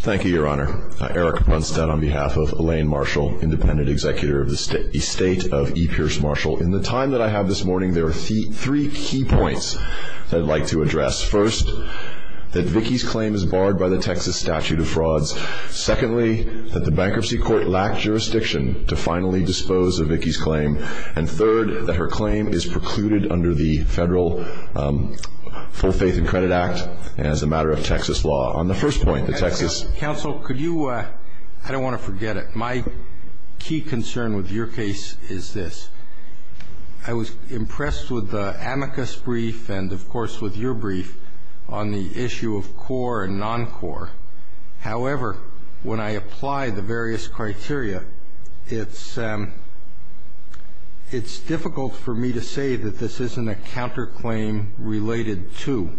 Thank you, Your Honor. Eric Bunstead on behalf of Elaine Marshall, Independent Executive of the State of E. Pierce Marshall. In the time that I have this morning, there are three key points that I'd like to address. First, that Vicki's claim is barred by the Texas statute of frauds. Secondly, that the Bankruptcy Court lacked jurisdiction to finally dispose of Vicki's claim. And third, that her claim is precluded under the Federal Full Faith and Credit Act as a matter of Texas law. On the first point, the Texas... Justice Alito Counsel, could you... I don't want to forget it. My key concern with your case is this. I was impressed with the amicus brief and, of course, with your brief on the issue of core and non-core. However, when I apply the various criteria, it's difficult for me to say that this isn't a counterclaim related to,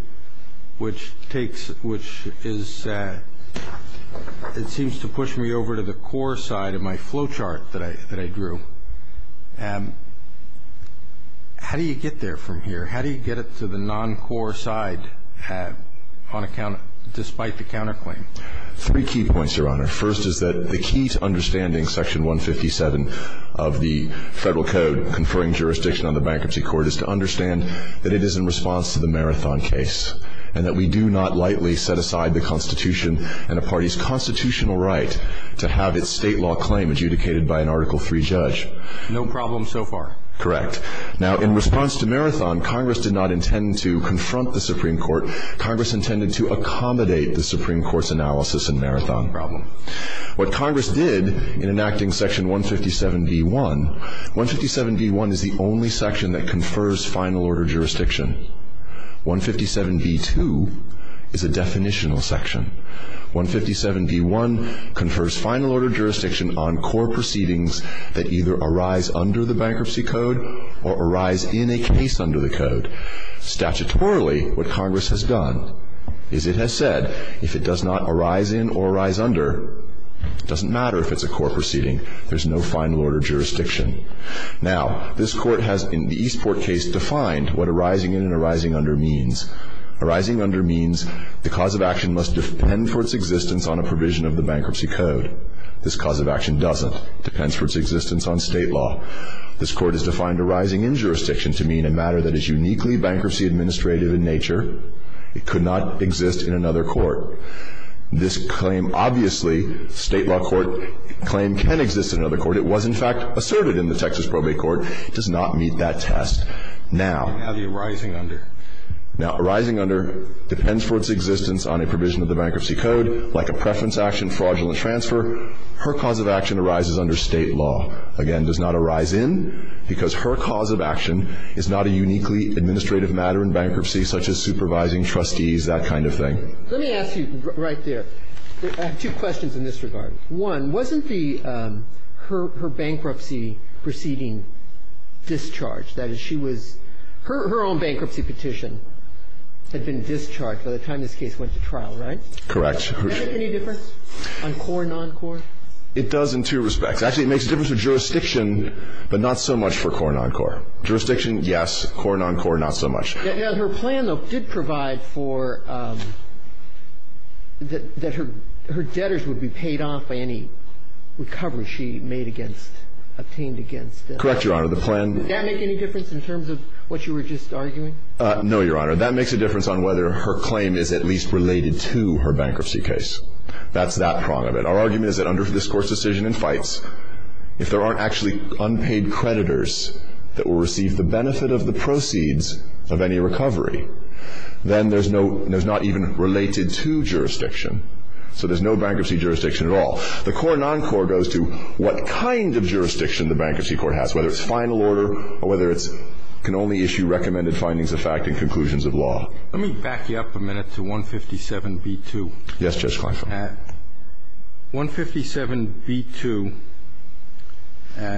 which takes, which is, it seems to push me over to the core side of my flow chart that I drew. How do you get there from here? How do you get it to the non-core side on account, despite the counterclaim? Three key points, Your Honor. First is that the key to understanding Section 157 of the Federal Code conferring jurisdiction on the Bankruptcy Court is to understand that it is in response to the Marathon case, and that we do not lightly set aside the Constitution and a party's constitutional right to have its state law claim adjudicated by an Article III judge. No problem so far. Correct. Now, in response to Marathon, Congress did not intend to confront the Supreme Court. Congress intended to accommodate the Supreme Court's analysis in Marathon. No problem. What Congress did in enacting Section 157b-1, 157b-1 is the only section that confers final order jurisdiction. 157b-2 is a definitional section. 157b-1 confers final order jurisdiction on core proceedings that either arise under the Bankruptcy Code or arise in a case under the Code. Statutorily, what Congress has done is it has said if it does not arise in or arise under, it doesn't matter if it's a core proceeding. There's no final order jurisdiction. Now, this Court has, in the Eastport case, defined what arising in and arising under means. Arising under means the cause of action must depend for its existence on a provision of the Bankruptcy Code. This cause of action doesn't. It depends for its existence on state law. This Court has defined arising in jurisdiction to mean a matter that is uniquely bankruptcy-administrative in nature. It could not exist in another court. This claim, obviously, state law court claim can exist in another court. It was, in fact, asserted in the Texas Probate Court. It does not meet that test. Now the arising under. Now, arising under depends for its existence on a provision of the Bankruptcy Code, like a preference action, fraudulent transfer. Her cause of action arises under state law. Again, does not arise in because her cause of action is not a uniquely administrative matter in bankruptcy, such as supervising trustees, that kind of thing. Let me ask you right there. I have two questions in this regard. One, wasn't the her bankruptcy proceeding discharged? That is, she was her own bankruptcy petition had been discharged by the time this case went to trial, right? Correct. Does that make any difference on core and non-core? It does in two respects. Actually, it makes a difference for jurisdiction, but not so much for core and non-core. Jurisdiction, yes. Core and non-core, not so much. Her plan, though, did provide for that her debtors would be paid off by any recovery she made against, obtained against. Correct, Your Honor. The plan. Does that make any difference in terms of what you were just arguing? No, Your Honor. That makes a difference on whether her claim is at least related to her bankruptcy That's that prong of it. Our argument is that under this Court's decision in Fights, if there aren't actually unpaid creditors that will receive the benefit of the proceeds of any recovery, then there's no, there's not even related to jurisdiction. So there's no bankruptcy jurisdiction at all. The core and non-core goes to what kind of jurisdiction the bankruptcy court has, whether it's final order or whether it's can only issue recommended findings of fact and conclusions of law. Let me back you up a minute to 157b-2. Yes, Judge Carson. 157b-2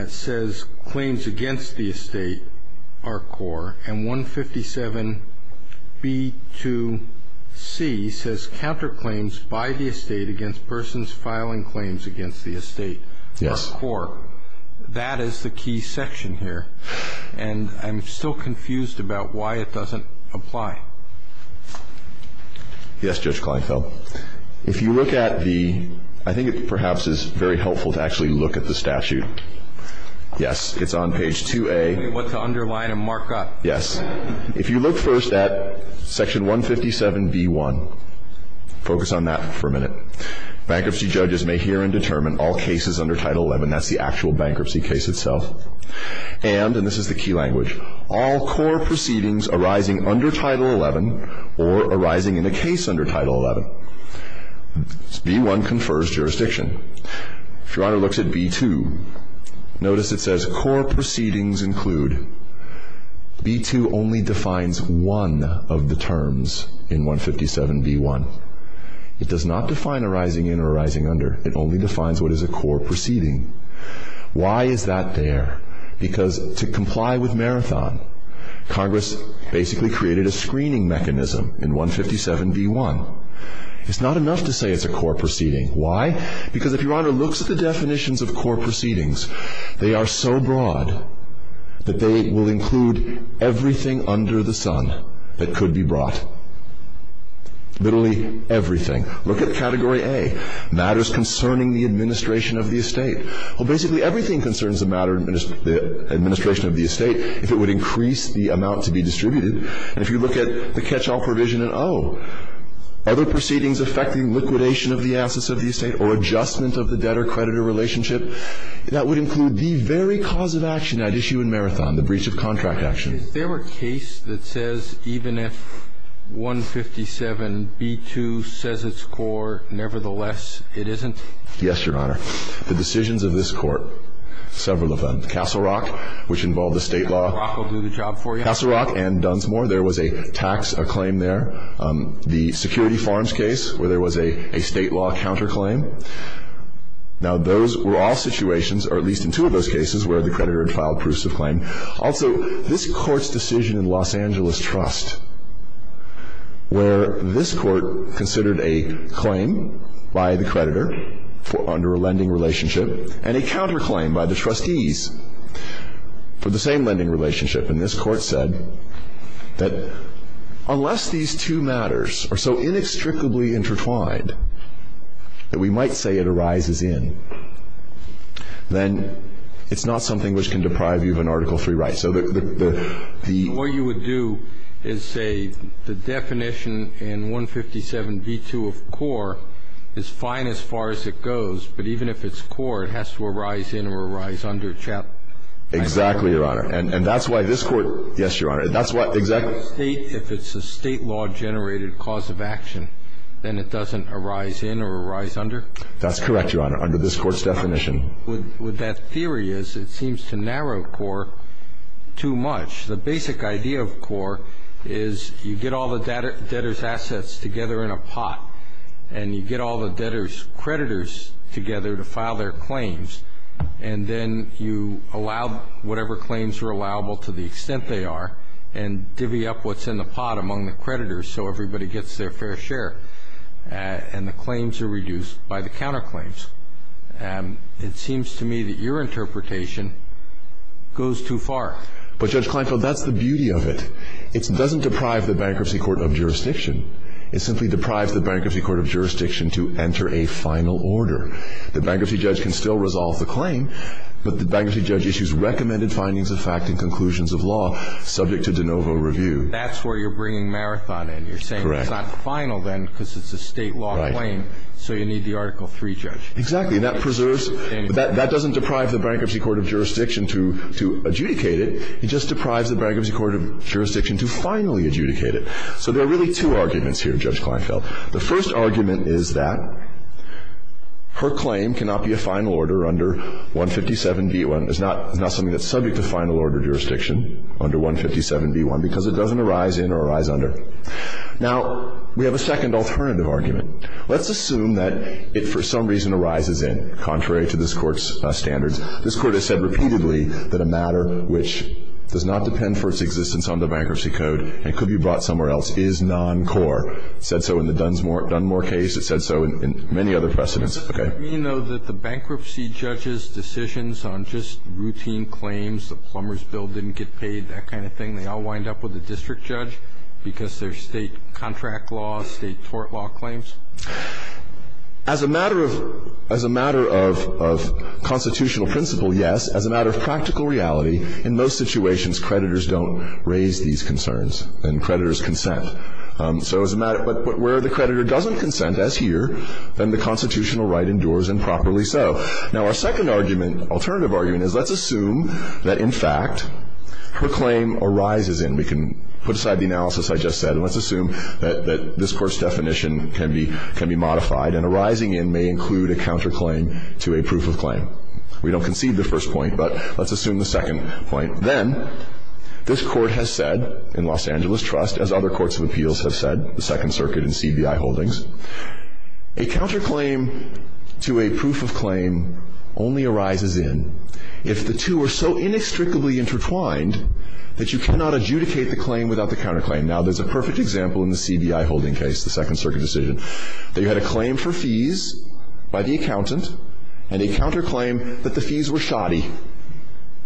says claims against the estate are core. And 157b-2c says counterclaims by the estate against persons filing claims against the estate are core. Yes. That is the key section here. And I'm still confused about why it doesn't apply. Yes, Judge Kleinfeld. If you look at the, I think it perhaps is very helpful to actually look at the statute. Yes. It's on page 2A. What to underline and mark up. Yes. If you look first at section 157b-1, focus on that for a minute. Bankruptcy judges may hear and determine all cases under Title XI. That's the actual bankruptcy case itself. And, and this is the key language, all core proceedings arising under Title XI or arising in a case under Title XI. B-1 confers jurisdiction. If Your Honor looks at B-2, notice it says core proceedings include. B-2 only defines one of the terms in 157b-1. It does not define arising in or arising under. It only defines what is a core proceeding. Why is that there? Because to comply with Marathon, Congress basically created a screening mechanism in 157b-1. It's not enough to say it's a core proceeding. Why? Because if Your Honor looks at the definitions of core proceedings, they are so broad that they will include everything under the sun that could be brought. Literally everything. Look at Category A, matters concerning the administration of the estate. Well, basically everything concerns the matter of the administration of the estate if it would increase the amount to be distributed. And if you look at the catch-all provision in O, other proceedings affecting liquidation of the assets of the estate or adjustment of the debtor-creditor relationship, that would include the very cause of action at issue in Marathon, the breach of contract action. Is there a case that says even if 157b-2 says it's core, nevertheless, it isn't? Yes, Your Honor. The decisions of this Court, several of them. Castle Rock, which involved the State law. Castle Rock will do the job for you. Castle Rock and Dunsmore, there was a tax claim there. The Security Farms case, where there was a State law counterclaim. Now, those were all situations, or at least in two of those cases, where the creditor had filed proofs of claim. Also, this Court's decision in Los Angeles Trust, where this Court considered a claim by the creditor under a lending relationship and a counterclaim by the trustees for the same lending relationship, and this Court said that unless these two matters are so inextricably intertwined that we might say it arises in, then it's not something which can deprive you of an Article III right. So the ---- What you would do is say the definition in 157b-2 of core is fine as far as it goes, but even if it's core, it has to arise in or arise under Chapter ---- Exactly, Your Honor. And that's why this Court ---- Yes, Your Honor. That's why ---- If it's a State law-generated cause of action, then it doesn't arise in or arise under? That's correct, Your Honor, under this Court's definition. What that theory is, it seems to narrow core too much. The basic idea of core is you get all the debtors' assets together in a pot, and you get all the debtors' creditors together to file their claims, and then you allow whatever claims are allowable to the extent they are and divvy up what's in the pot among the creditors so everybody gets their fair share, and the claims are reduced by the counterclaims. It seems to me that your interpretation goes too far. But, Judge Kleinfeld, that's the beauty of it. It doesn't deprive the Bankruptcy Court of Jurisdiction. It simply deprives the Bankruptcy Court of Jurisdiction to enter a final order. The bankruptcy judge can still resolve the claim, but the bankruptcy judge issues recommended findings of fact and conclusions of law subject to de novo review. That's where you're bringing Marathon in. Correct. You're saying it's not final then because it's a State law claim. Right. So you need the Article III judge. Exactly. And that preserves ---- But that doesn't deprive the Bankruptcy Court of Jurisdiction to adjudicate it. It just deprives the Bankruptcy Court of Jurisdiction to finally adjudicate it. So there are really two arguments here, Judge Kleinfeld. The first argument is that her claim cannot be a final order under 157b1. It's not something that's subject to final order jurisdiction under 157b1 because it doesn't arise in or arise under. Now, we have a second alternative argument. Let's assume that it for some reason arises in, contrary to this Court's standards. This Court has said repeatedly that a matter which does not depend for its existence on the Bankruptcy Code and could be brought somewhere else is non-core. It said so in the Dunmore case. It said so in many other precedents. Okay. Does it mean, though, that the bankruptcy judge's decisions on just routine claims, the plumber's bill didn't get paid, that kind of thing, they all wind up with a district judge because they're State contract law, State tort law claims? As a matter of constitutional principle, yes. As a matter of practical reality, in most situations, creditors don't raise these concerns and creditors consent. So as a matter of where the creditor doesn't consent, as here, then the constitutional right endures improperly so. Now, our second argument, alternative argument, is let's assume that, in fact, her claim arises in. We can put aside the analysis I just said and let's assume that this Court's definition can be modified and arising in may include a counterclaim to a proof of claim. We don't concede the first point, but let's assume the second point. Then this Court has said in Los Angeles Trust, as other courts of appeals have said, the Second Circuit and CBI holdings, a counterclaim to a proof of claim only arises in if the two are so inextricably intertwined that you cannot adjudicate the claim without the counterclaim. Now, there's a perfect example in the CBI holding case, the Second Circuit decision, that you had a claim for fees by the accountant and a counterclaim that the fees were shoddy.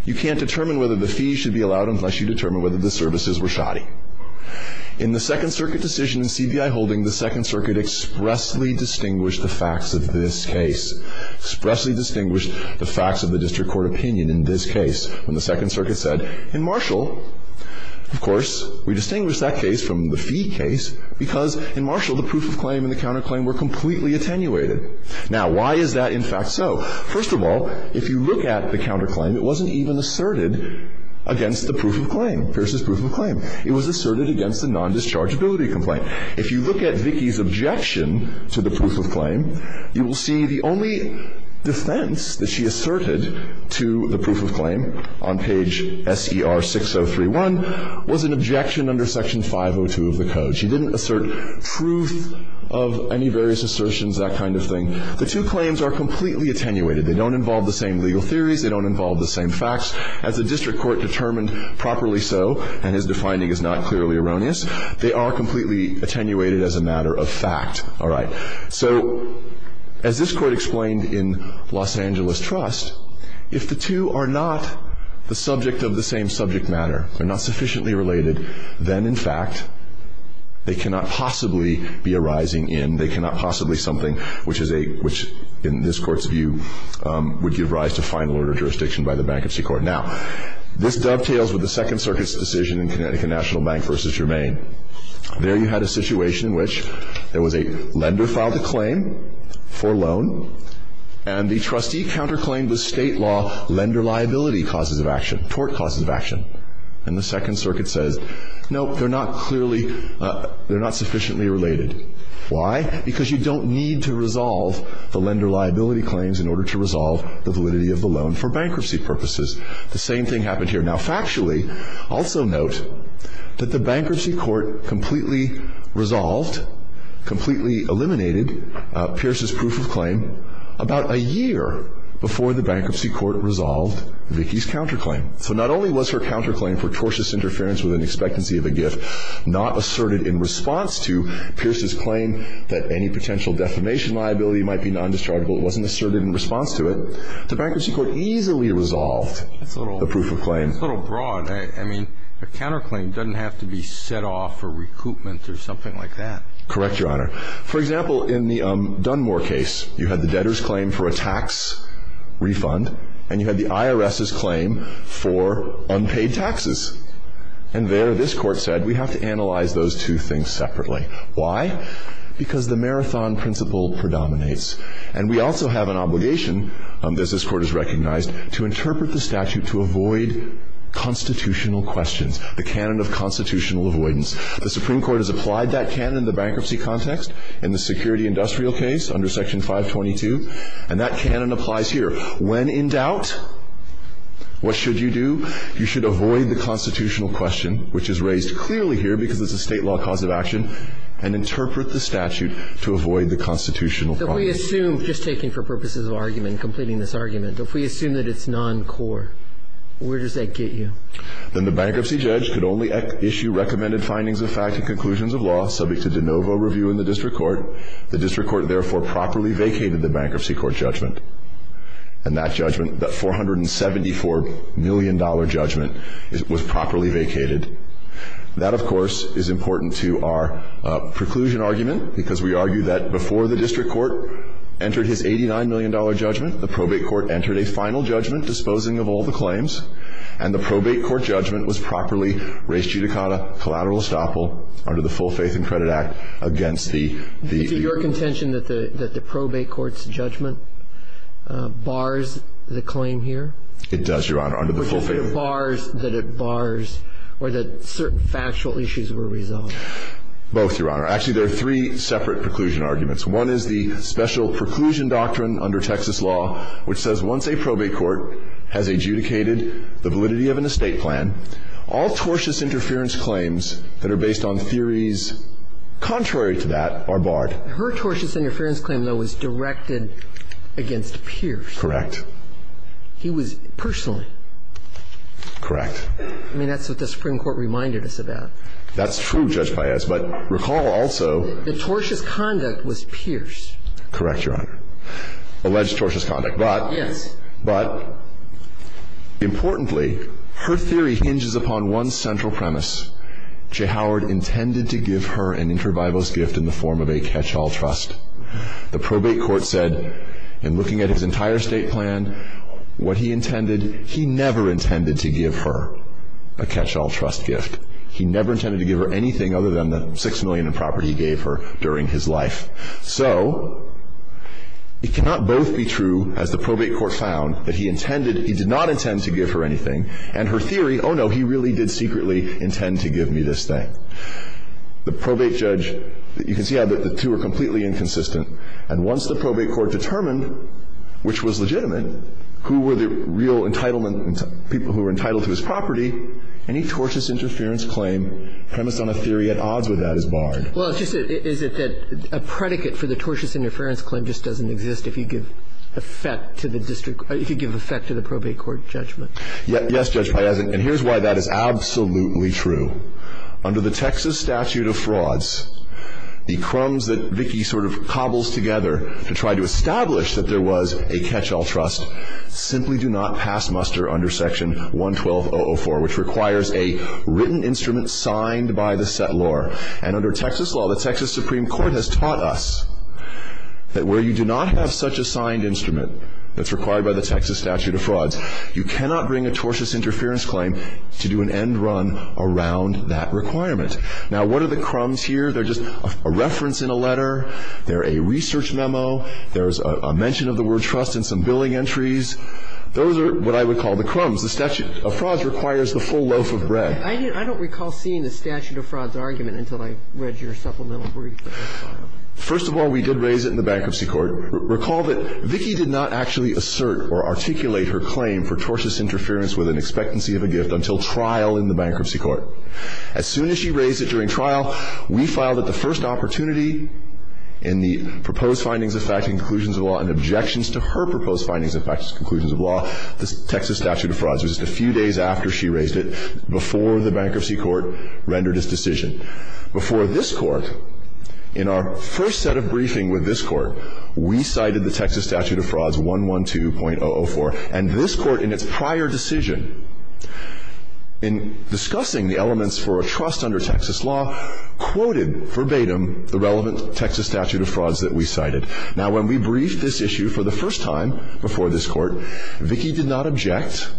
You can't determine whether the fees should be allowed unless you determine whether the services were shoddy. In the Second Circuit decision in CBI holding, the Second Circuit expressly distinguished the facts of this case, expressly distinguished the facts of the district court opinion in this case. When the Second Circuit said, in Marshall, of course, we distinguish that case from the fee case because in Marshall, the proof of claim and the counterclaim were completely attenuated. Now, why is that, in fact, so? First of all, if you look at the counterclaim, it wasn't even asserted against the proof of claim, Pierce's proof of claim. It was asserted against the nondischargeability complaint. If you look at Vicki's objection to the proof of claim, you will see the only defense that she asserted to the proof of claim on page SER6031 was an objection under Section 502 of the Code. She didn't assert truth of any various assertions, that kind of thing. The two claims are completely attenuated. They don't involve the same legal theories. They don't involve the same facts. As the district court determined properly so, and his defining is not clearly erroneous, they are completely attenuated as a matter of fact. All right. So as this Court explained in Los Angeles Trust, if the two are not the subject of the same subject matter, they're not sufficiently related, then, in fact, they cannot possibly be arising in, they cannot possibly something which is a, which in this Court's view would give rise to final order jurisdiction by the Bankruptcy Court. Now, this dovetails with the Second Circuit's decision in Connecticut National Bank v. Germain. There you had a situation in which there was a lender filed a claim for loan, and the trustee counterclaimed the State law lender liability causes of action. And the Second Circuit says, no, they're not clearly, they're not sufficiently related. Why? Because you don't need to resolve the lender liability claims in order to resolve the validity of the loan for bankruptcy purposes. The same thing happened here. Now, factually, also note that the Bankruptcy Court completely resolved, completely eliminated Pierce's proof of claim about a year before the Bankruptcy Court resolved Vicki's counterclaim. So not only was her counterclaim for tortious interference with an expectancy of a gift not asserted in response to Pierce's claim that any potential defamation liability might be nondischargeable, it wasn't asserted in response to it. The Bankruptcy Court easily resolved the proof of claim. It's a little broad. I mean, a counterclaim doesn't have to be set off for recoupment or something like that. Correct, Your Honor. For example, in the Dunmore case, you had the debtor's claim for a tax refund, and you had the IRS's claim for unpaid taxes. And there, this Court said, we have to analyze those two things separately. Why? Because the marathon principle predominates. And we also have an obligation, as this Court has recognized, to interpret the statute to avoid constitutional questions, the canon of constitutional avoidance. The Supreme Court has applied that canon in the bankruptcy context in the security industrial case under Section 522. And that canon applies here. When in doubt, what should you do? You should avoid the constitutional question, which is raised clearly here because it's a State law cause of action, and interpret the statute to avoid the constitutional problem. But we assume, just taking for purposes of argument, completing this argument, if we assume that it's noncore, where does that get you? Then the bankruptcy judge could only issue recommended findings of fact and conclusions of law subject to de novo review in the district court. The district court therefore properly vacated the Bankruptcy Court judgment. And that judgment, that $474 million judgment, was properly vacated. That, of course, is important to our preclusion argument, because we argue that before the district court entered his $89 million judgment, the probate court entered a final judgment disposing of all the claims, and the probate court judgment was properly res judicata collateral estoppel under the Full Faith and Credit Act against the ---- And does that bars the claim here? It does, Your Honor, under the Full Faith and Credit Act. But does it bars that it bars or that certain factual issues were resolved? Both, Your Honor. Actually, there are three separate preclusion arguments. One is the Special Preclusion Doctrine under Texas law, which says once a probate court has adjudicated the validity of an estate plan, all tortious interference claims that are based on theories contrary to that are barred. Her tortious interference claim, though, was directed against Pierce. Correct. He was personally. Correct. I mean, that's what the Supreme Court reminded us about. That's true, Judge Paez. But recall also ---- The tortious conduct was Pierce. Correct, Your Honor. Alleged tortious conduct. But ---- But importantly, her theory hinges upon one central premise. J. Howard intended to give her an inter-bibles gift in the form of a catch-all trust. The probate court said, in looking at his entire estate plan, what he intended, he never intended to give her a catch-all trust gift. He never intended to give her anything other than the $6 million in property he gave her during his life. So it cannot both be true, as the probate court found, that he intended, he did not intend to give her anything. And her theory, oh, no, he really did secretly intend to give me this thing. The probate judge, you can see how the two are completely inconsistent. And once the probate court determined, which was legitimate, who were the real entitlement, people who were entitled to his property, any tortious interference claim premised on a theory at odds with that is barred. Well, is it that a predicate for the tortious interference claim just doesn't exist if you give effect to the district, if you give effect to the probate court judgment? Yes, Judge Piazza, and here's why that is absolutely true. Under the Texas statute of frauds, the crumbs that Vicki sort of cobbles together to try to establish that there was a catch-all trust simply do not pass muster under Section 112.004, which requires a written instrument signed by the settlor. And under Texas law, the Texas Supreme Court has taught us that where you do not have such a signed instrument that's required by the Texas statute of frauds, you cannot bring a tortious interference claim to do an end run around that requirement. Now, what are the crumbs here? They're just a reference in a letter. They're a research memo. There's a mention of the word trust in some billing entries. Those are what I would call the crumbs. The statute of frauds requires the full loaf of bread. I don't recall seeing the statute of frauds argument until I read your supplemental brief. First of all, we did raise it in the Bankruptcy Court. Recall that Vicki did not actually assert or articulate her claim for tortious interference with an expectancy of a gift until trial in the Bankruptcy Court. As soon as she raised it during trial, we filed it the first opportunity in the proposed findings of fact and conclusions of law and objections to her proposed findings of fact and conclusions of law, the Texas statute of frauds. It was just a few days after she raised it, before the Bankruptcy Court rendered its decision. Before this Court, in our first set of briefing with this Court, we cited the Texas statute of frauds, 112.004. And this Court, in its prior decision, in discussing the elements for a trust under Texas law, quoted verbatim the relevant Texas statute of frauds that we cited. Now, when we briefed this issue for the first time before this Court, Vicki did not object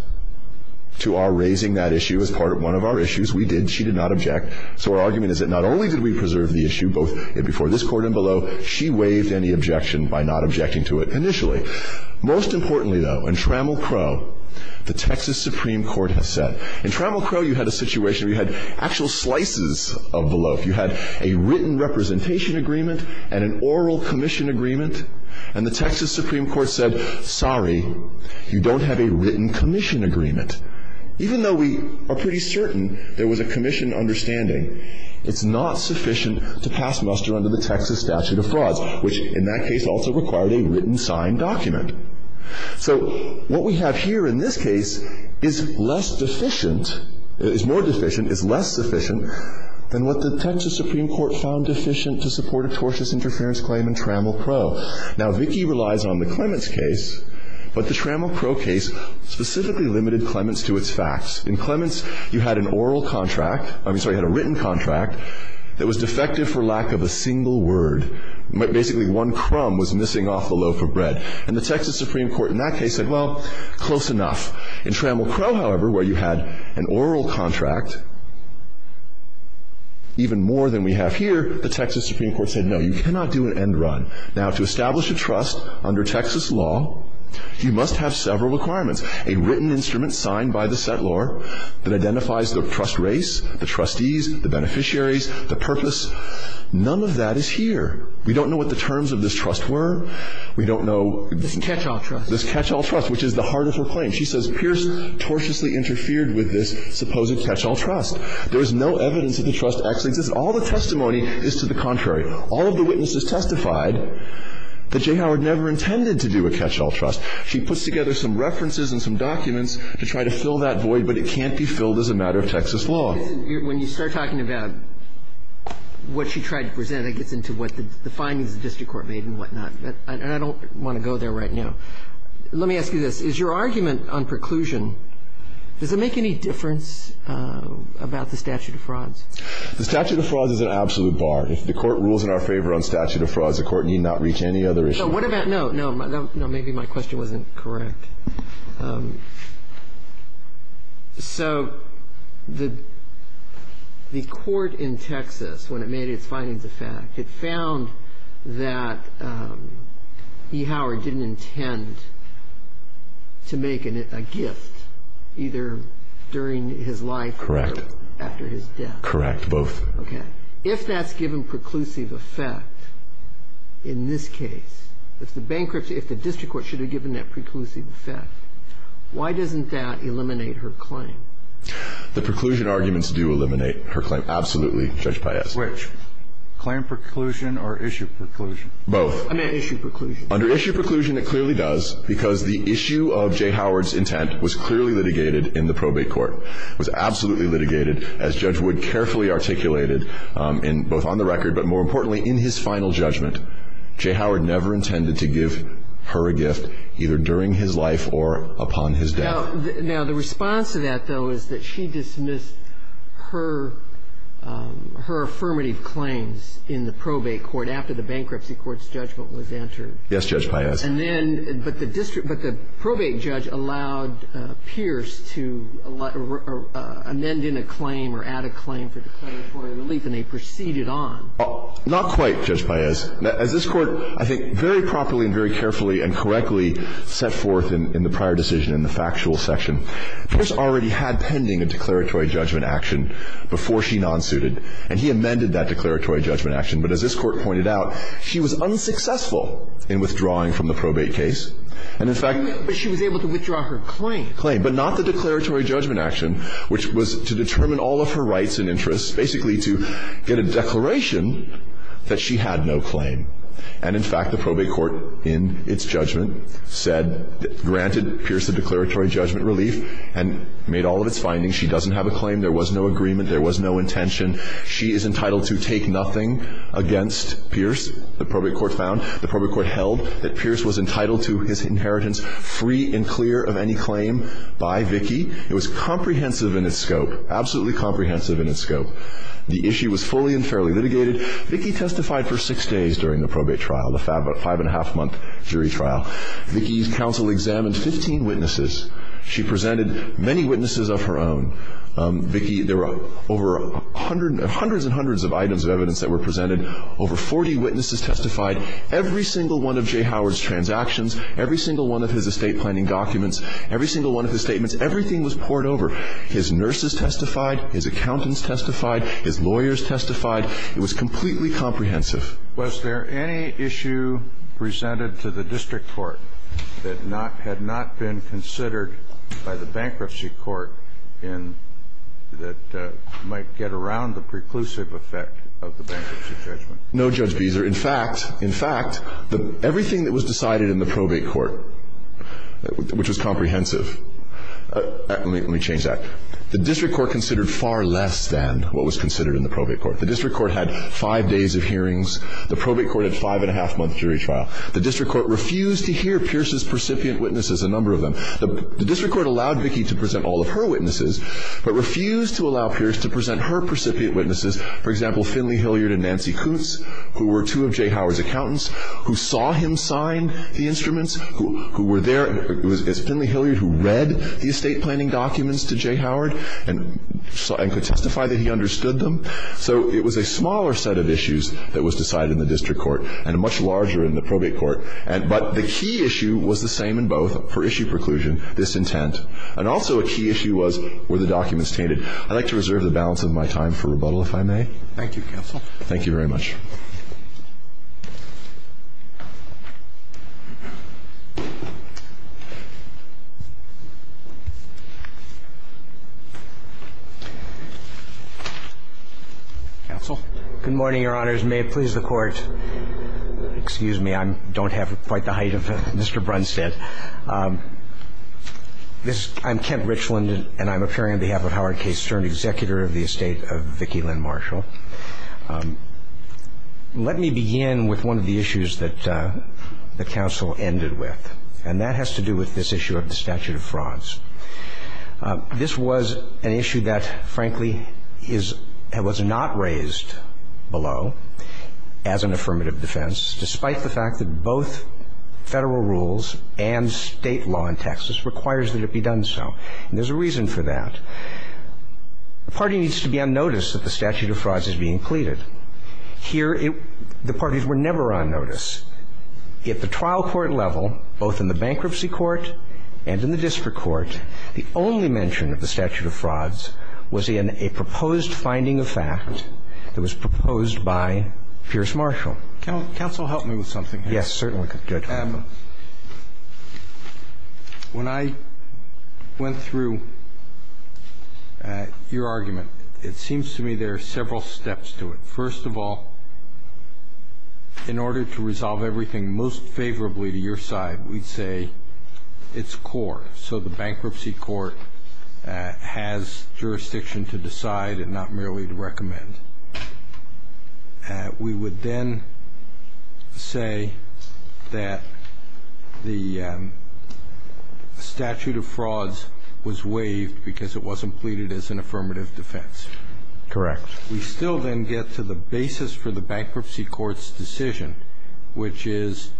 to our raising that issue as part of one of our issues. We did. She did not object. So our argument is that not only did we preserve the issue, both before this Court and below, she waived any objection by not objecting to it initially. Most importantly, though, in Trammell Crow, the Texas Supreme Court has said. In Trammell Crow, you had a situation where you had actual slices of the loaf. You had a written representation agreement and an oral commission agreement. And the Texas Supreme Court said, sorry, you don't have a written commission agreement. Even though we are pretty certain there was a commission understanding, it's not sufficient to pass muster under the Texas statute of frauds, which in that case also required a written signed document. So what we have here in this case is less deficient, is more deficient, is less sufficient than what the Texas Supreme Court found deficient to support a tortious interference claim in Trammell Crow. Now, Vicki relies on the Clements case, but the Trammell Crow case specifically limited Clements to its facts. In Clements, you had an oral contract, I'm sorry, you had a written contract that was defective for lack of a single word. Basically, one crumb was missing off the loaf of bread. And the Texas Supreme Court in that case said, well, close enough. In Trammell Crow, however, where you had an oral contract, even more than we have here, the Texas Supreme Court said, no, you cannot do an end run. Now, to establish a trust under Texas law, you must have several requirements. A written instrument signed by the settlor that identifies the trust race, the trustees, the beneficiaries, the purpose. None of that is here. We don't know what the terms of this trust were. We don't know this catch-all trust, which is the heart of her claim. She says Pierce tortiously interfered with this supposed catch-all trust. There is no evidence that the trust actually exists. All the testimony is to the contrary. All of the witnesses testified that J. Howard never intended to do a catch-all trust. She puts together some references and some documents to try to fill that void, but it can't be filled as a matter of Texas law. When you start talking about what she tried to present, it gets into what the findings the district court made and whatnot. And I don't want to go there right now. Let me ask you this. Is your argument on preclusion, does it make any difference about the statute of frauds? The statute of frauds is an absolute bar. If the Court rules in our favor on statute of frauds, the Court need not reach any other issue. No, maybe my question wasn't correct. So the court in Texas, when it made its findings of fact, it found that E. Howard didn't intend to make a gift either during his life or after his death. Correct, both. Okay. If that's given preclusive effect in this case, if the bankruptcy, if the district court should have given that preclusive effect, why doesn't that eliminate her claim? The preclusion arguments do eliminate her claim, absolutely, Judge Paez. Which? Claim preclusion or issue preclusion? Both. I meant issue preclusion. Under issue preclusion, it clearly does, because the issue of J. Howard's intent was clearly litigated in the probate court. It was absolutely litigated, as Judge Wood carefully articulated both on the record but more importantly in his final judgment. J. Howard never intended to give her a gift either during his life or upon his death. Now, the response to that, though, is that she dismissed her affirmative claims in the probate court after the bankruptcy court's judgment was entered. Yes, Judge Paez. And then, but the district – but the probate judge allowed Pierce to amend in a claim or add a claim for declaratory relief, and they proceeded on. Well, not quite, Judge Paez. As this Court, I think, very properly and very carefully and correctly set forth in the prior decision in the factual section, Pierce already had pending a declaratory judgment action before she nonsuited, and he amended that declaratory judgment action, but as this Court pointed out, she was unsuccessful in withdrawing from the probate case, and in fact – But she was able to withdraw her claim. Claim, but not the declaratory judgment action, which was to determine all of her rights and interests, basically to get a declaration that she had no claim. And in fact, the probate court in its judgment said, granted Pierce the declaratory judgment relief and made all of its findings. She doesn't have a claim. There was no agreement. There was no intention. She is entitled to take nothing against Pierce, the probate court found. The probate court held that Pierce was entitled to his inheritance free and clear of any claim by Vickie. It was comprehensive in its scope, absolutely comprehensive in its scope. The issue was fully and fairly litigated. Vickie testified for six days during the probate trial, the five-and-a-half month jury trial. Vickie's counsel examined 15 witnesses. She presented many witnesses of her own. Vickie, there were over hundreds and hundreds of items of evidence that were presented. Over 40 witnesses testified. Every single one of Jay Howard's transactions, every single one of his estate planning documents, every single one of his statements, everything was poured over. His nurses testified. His accountants testified. His lawyers testified. It was completely comprehensive. Was there any issue presented to the district court that had not been considered by the bankruptcy court in that might get around the preclusive effect of the bankruptcy judgment? No, Judge Beeser. In fact, in fact, everything that was decided in the probate court, which was comprehensive Let me change that. The district court considered far less than what was considered in the probate court. The district court had five days of hearings. The probate court had a five-and-a-half month jury trial. The district court refused to hear Pierce's recipient witnesses, a number of them. The district court allowed Vicki to present all of her witnesses but refused to allow Pierce to present her recipient witnesses, for example, Finley Hilliard and Nancy Kutz, who were two of Jay Howard's accountants, who saw him sign the instruments, who were there. It was Finley Hilliard who read the estate planning documents to Jay Howard and could testify that he understood them. So it was a smaller set of issues that was decided in the district court and a much larger in the probate court. But the key issue was the same in both for issue preclusion, disintent. And also a key issue was were the documents tainted. I'd like to reserve the balance of my time for rebuttal, if I may. Thank you, counsel. Thank you very much. Counsel. Good morning, Your Honors. May it please the Court. Excuse me. I don't have quite the height of Mr. Brunstad. I'm Kent Richland, and I'm appearing on behalf of Howard K. Stern, executor of the estate of Vicki Lynn Marshall. Let me begin with one of the issues that the counsel ended with. And that has to do with this issue of the statute of frauds. This was an issue that, frankly, is and was not raised below as an affirmative defense, despite the fact that both Federal rules and State law in Texas requires that it be done so. And there's a reason for that. The party needs to be on notice that the statute of frauds is being pleaded. Here, the parties were never on notice. At the trial court level, both in the bankruptcy court and in the district court, the only mention of the statute of frauds was in a proposed finding of fact that was proposed by Pierce Marshall. Counsel, help me with something here. Yes, certainly. Good. When I went through your argument, it seems to me there are several steps to it. First of all, in order to resolve everything most favorably to your side, we'd say it's core. So the bankruptcy court has jurisdiction to decide and not merely to recommend. We would then say that the statute of frauds was waived because it wasn't pleaded as an affirmative defense. Correct. We still then get to the basis for the bankruptcy court's decision, which is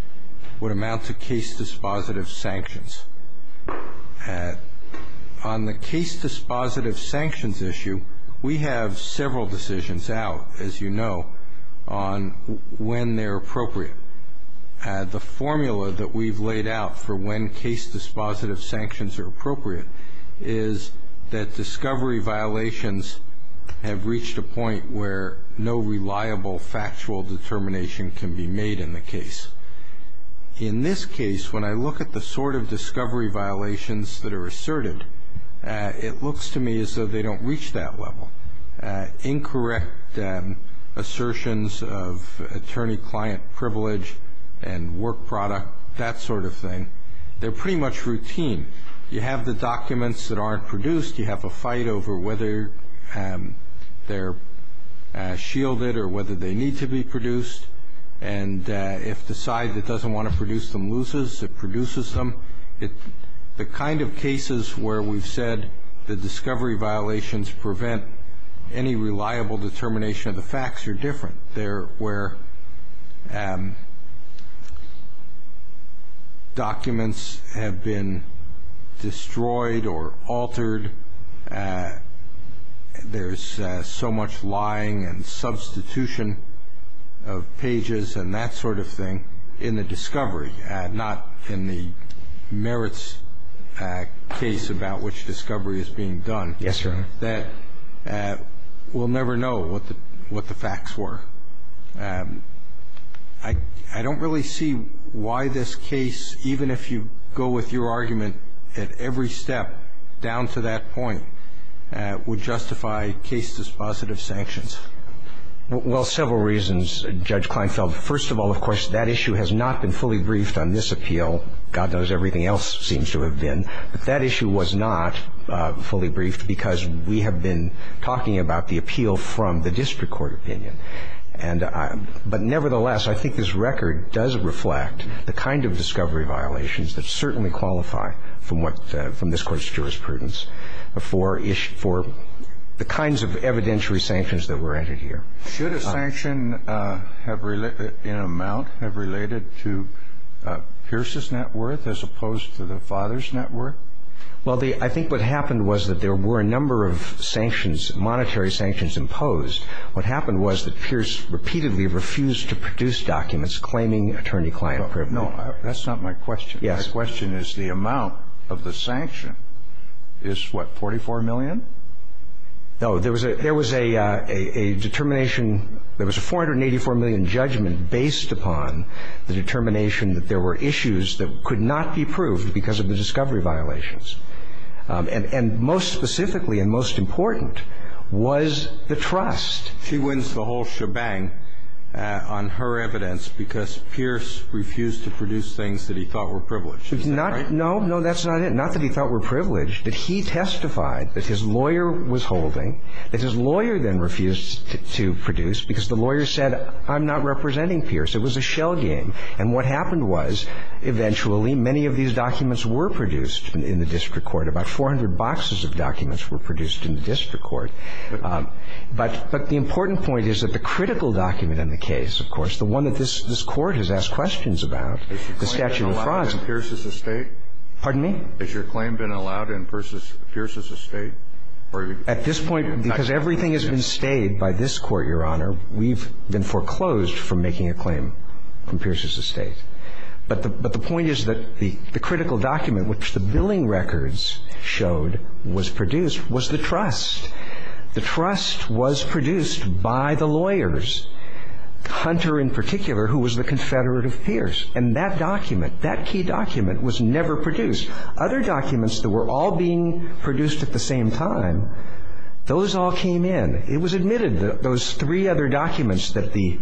what amounts to case-dispositive sanctions. On the case-dispositive sanctions issue, we have several decisions out, as you know, on when they're appropriate. The formula that we've laid out for when case-dispositive sanctions are appropriate is that discovery violations have reached a point where no reliable factual determination can be made in the case. In this case, when I look at the sort of discovery violations that are asserted, it looks to me as though they don't reach that level. Incorrect assertions of attorney-client privilege and work product, that sort of thing, they're pretty much routine. You have the documents that aren't produced. You have a fight over whether they're shielded or whether they need to be produced. And if the side that doesn't want to produce them loses, it produces them. The kind of cases where we've said the discovery violations prevent any reliable determination of the facts are different. They're where documents have been destroyed or altered. There's so much lying and substitution of pages and that sort of thing in the discovery, not in the merits case about which discovery is being done. Yes, Your Honor. I think that we'll never know what the facts were. I don't really see why this case, even if you go with your argument at every step down to that point, would justify case-dispositive sanctions. Well, several reasons, Judge Kleinfeld. First of all, of course, that issue has not been fully briefed on this appeal. God knows everything else seems to have been. But that issue was not fully briefed because we have been talking about the appeal from the district court opinion. But nevertheless, I think this record does reflect the kind of discovery violations that certainly qualify from this Court's jurisprudence for the kinds of evidentiary sanctions that were entered here. Should a sanction in amount have related to Pierce's net worth as opposed to the father's net worth? Well, I think what happened was that there were a number of sanctions, monetary sanctions imposed. What happened was that Pierce repeatedly refused to produce documents claiming attorney-client privilege. No. That's not my question. Yes. My question is the amount of the sanction is, what, $44 million? No. There was a determination. There was a $484 million judgment based upon the determination that there were issues that could not be proved because of the discovery violations. And most specifically and most important was the trust. She wins the whole shebang on her evidence because Pierce refused to produce things that he thought were privileged. Is that right? No. No, that's not it. Not that he thought were privileged, but he testified that his lawyer was holding, that his lawyer then refused to produce because the lawyer said, I'm not representing Pierce. It was a shell game. And what happened was, eventually, many of these documents were produced in the district court. About 400 boxes of documents were produced in the district court. But the important point is that the critical document in the case, of course, the one that this Court has asked questions about, the Statute of Fraud. Has your claim been allowed in Pierce's estate? Pardon me? Has your claim been allowed in Pierce's estate? At this point, because everything has been stayed by this Court, Your Honor, we've been foreclosed from making a claim in Pierce's estate. But the point is that the critical document, which the billing records showed, was produced, was the trust. The trust was produced by the lawyers, Hunter in particular, who was the confederate of Pierce. And that document, that key document, was never produced. Other documents that were all being produced at the same time, those all came in. And it was admitted that those three other documents that the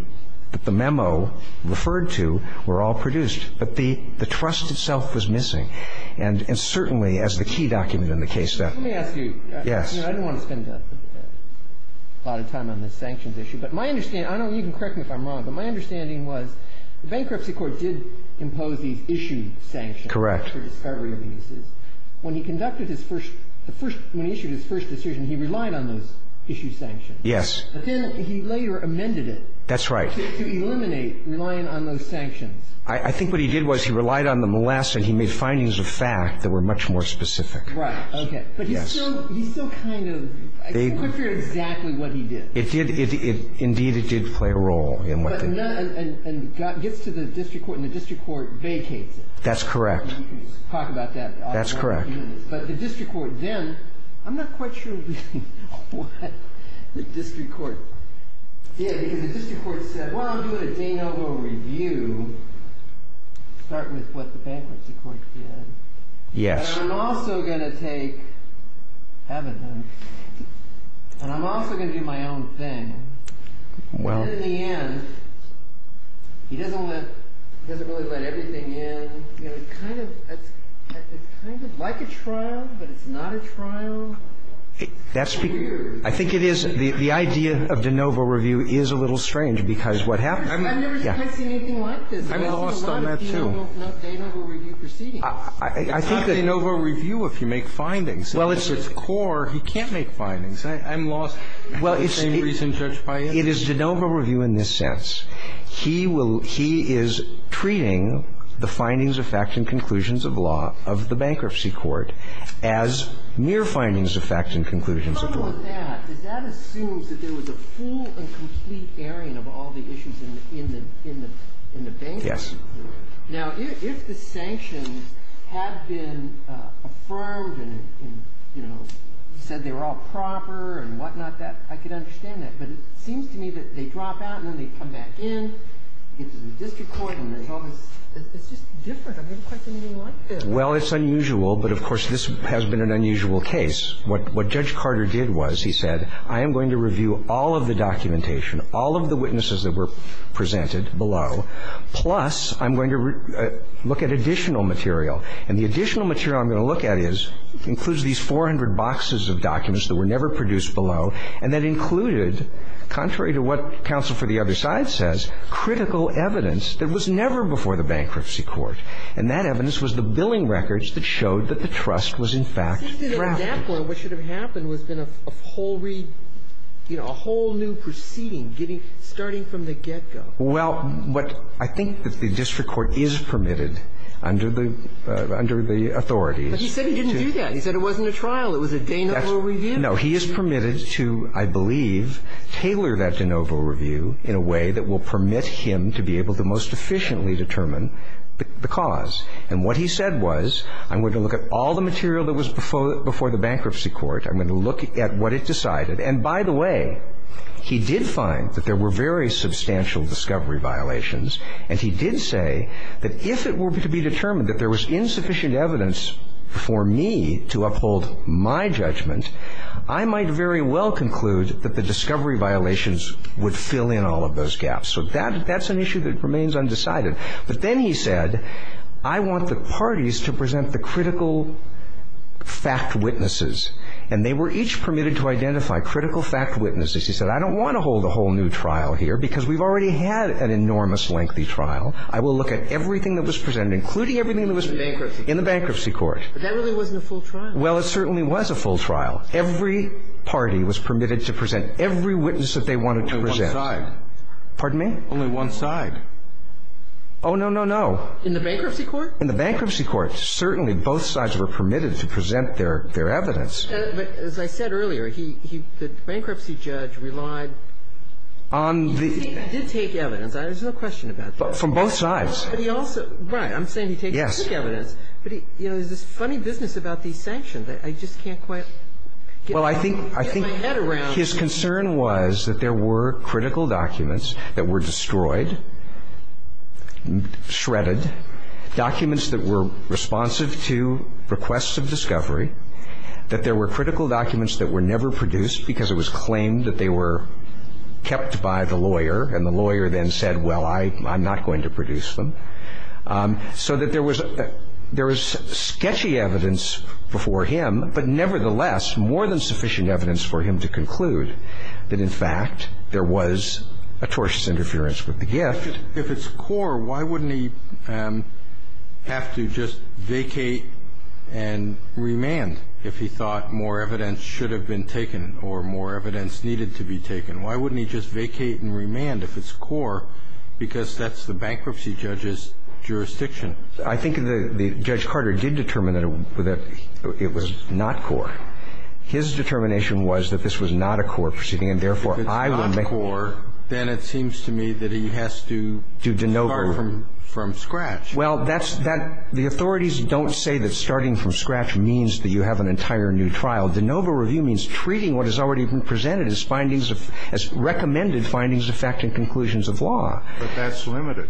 memo referred to were all produced. But the trust itself was missing. And certainly, as the key document in the case. Let me ask you. Yes. I don't want to spend a lot of time on this sanctions issue. But my understanding, I don't know, you can correct me if I'm wrong, but my understanding was the Bankruptcy Court did impose these issue sanctions. Correct. For discovery of cases. When he conducted his first, when he issued his first decision, he relied on those issue sanctions. Yes. But then he later amended it. That's right. To eliminate relying on those sanctions. I think what he did was he relied on them less and he made findings of fact that were much more specific. Right. Okay. But he's still kind of, I can't figure out exactly what he did. It did, indeed, it did play a role in what they did. And gets to the district court and the district court vacates it. That's correct. We can talk about that. That's correct. But the district court then, I'm not quite sure what the district court did. Because the district court said, well, I'll do a de novo review. Start with what the Bankruptcy Court did. Yes. And I'm also going to take evidence. And I'm also going to do my own thing. Well. But in the end, he doesn't let, he doesn't really let everything in. It's kind of like a trial, but it's not a trial. That's weird. I think it is. The idea of de novo review is a little strange. Because what happens. I've never seen anything like this. I'm lost on that, too. I've seen a lot of de novo review proceedings. It's not de novo review if you make findings. Well, it's core. He can't make findings. I'm lost. Well, it's. Same reason Judge Paez. It is de novo review in this sense. He will, he is treating the findings of facts and conclusions of law of the Bankruptcy Court as mere findings of facts and conclusions of law. And along with that, does that assume that there was a full and complete airing of all the issues in the Bankruptcy Court? Yes. Now, if the sanctions had been affirmed and, you know, said they were all proper and whatnot, I could understand that. But it seems to me that they drop out and then they come back in, get to the district court, and it's just different. I've never seen anything like this. Well, it's unusual. But, of course, this has been an unusual case. What Judge Carter did was he said, I am going to review all of the documentation, all of the witnesses that were presented below, plus I'm going to look at additional material. And the additional material I'm going to look at is, includes these 400 boxes of documents that were never produced below, and that included, contrary to what counsel for the other side says, critical evidence that was never before the Bankruptcy Court. And that evidence was the billing records that showed that the trust was, in fact, drafted. It seems to me at that point what should have happened was been a whole read, you know, a whole new proceeding starting from the get-go. Well, I think that the district court is permitted under the authorities. But he said he didn't do that. He said it wasn't a trial. It was a de novo review. No, he is permitted to, I believe, tailor that de novo review in a way that will permit him to be able to most efficiently determine the cause. And what he said was, I'm going to look at all the material that was before the Bankruptcy Court. I'm going to look at what it decided. And, by the way, he did find that there were very substantial discovery violations. And he did say that if it were to be determined that there was insufficient evidence for me to uphold my judgment, I might very well conclude that the discovery violations would fill in all of those gaps. So that's an issue that remains undecided. But then he said, I want the parties to present the critical fact witnesses. And they were each permitted to identify critical fact witnesses. He said, I don't want to hold a whole new trial here because we've already had an enormous lengthy trial. I will look at everything that was presented, including everything that was in the Bankruptcy In the Bankruptcy Court. But that really wasn't a full trial. Well, it certainly was a full trial. Every party was permitted to present every witness that they wanted to present. Only one side. Pardon me? Only one side. Oh, no, no, no. In the Bankruptcy Court? In the Bankruptcy Court. Certainly, both sides were permitted to present their evidence. But as I said earlier, he – the bankruptcy judge relied on the – He did take evidence. There's no question about that. From both sides. But he also – right. I'm saying he took evidence. Yes. But, you know, there's this funny business about these sanctions that I just can't quite get my head around. Well, I think his concern was that there were critical documents that were destroyed, shredded, documents that were responsive to requests of discovery, that there were kept by the lawyer. And the lawyer then said, well, I'm not going to produce them. So that there was – there was sketchy evidence before him, but nevertheless more than sufficient evidence for him to conclude that, in fact, there was atrocious interference with the gift. If it's core, why wouldn't he have to just vacate and remand if he thought more evidence should have been taken or more evidence needed to be taken? Why wouldn't he just vacate and remand if it's core? Because that's the bankruptcy judge's jurisdiction. I think that Judge Carter did determine that it was not core. His determination was that this was not a core proceeding, and therefore, I would make – If it's not core, then it seems to me that he has to start from scratch. Well, that's – that – the authorities don't say that starting from scratch means that you have an entire new trial. The NOVA review means treating what has already been presented as findings of – as recommended findings of fact and conclusions of law. But that's limited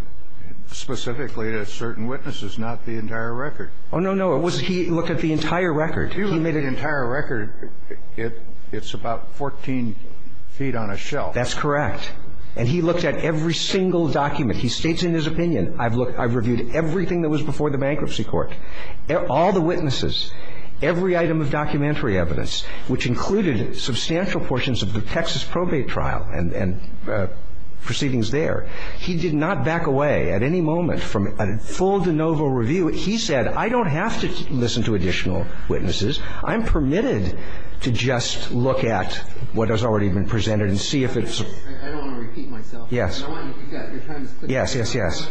specifically to certain witnesses, not the entire record. Oh, no, no. It was – he looked at the entire record. If you look at the entire record, it's about 14 feet on a shelf. That's correct. And he looked at every single document. He states in his opinion, I've looked – I've reviewed everything that was before the bankruptcy court. All the witnesses, every item of documentary evidence, which included substantial portions of the Texas probate trial and – and proceedings there, he did not back away at any moment from a full de novo review. He said, I don't have to listen to additional witnesses. I'm permitted to just look at what has already been presented and see if it's – I don't want to repeat myself. Yes. I want – you've got your time is up. Yes, yes, yes.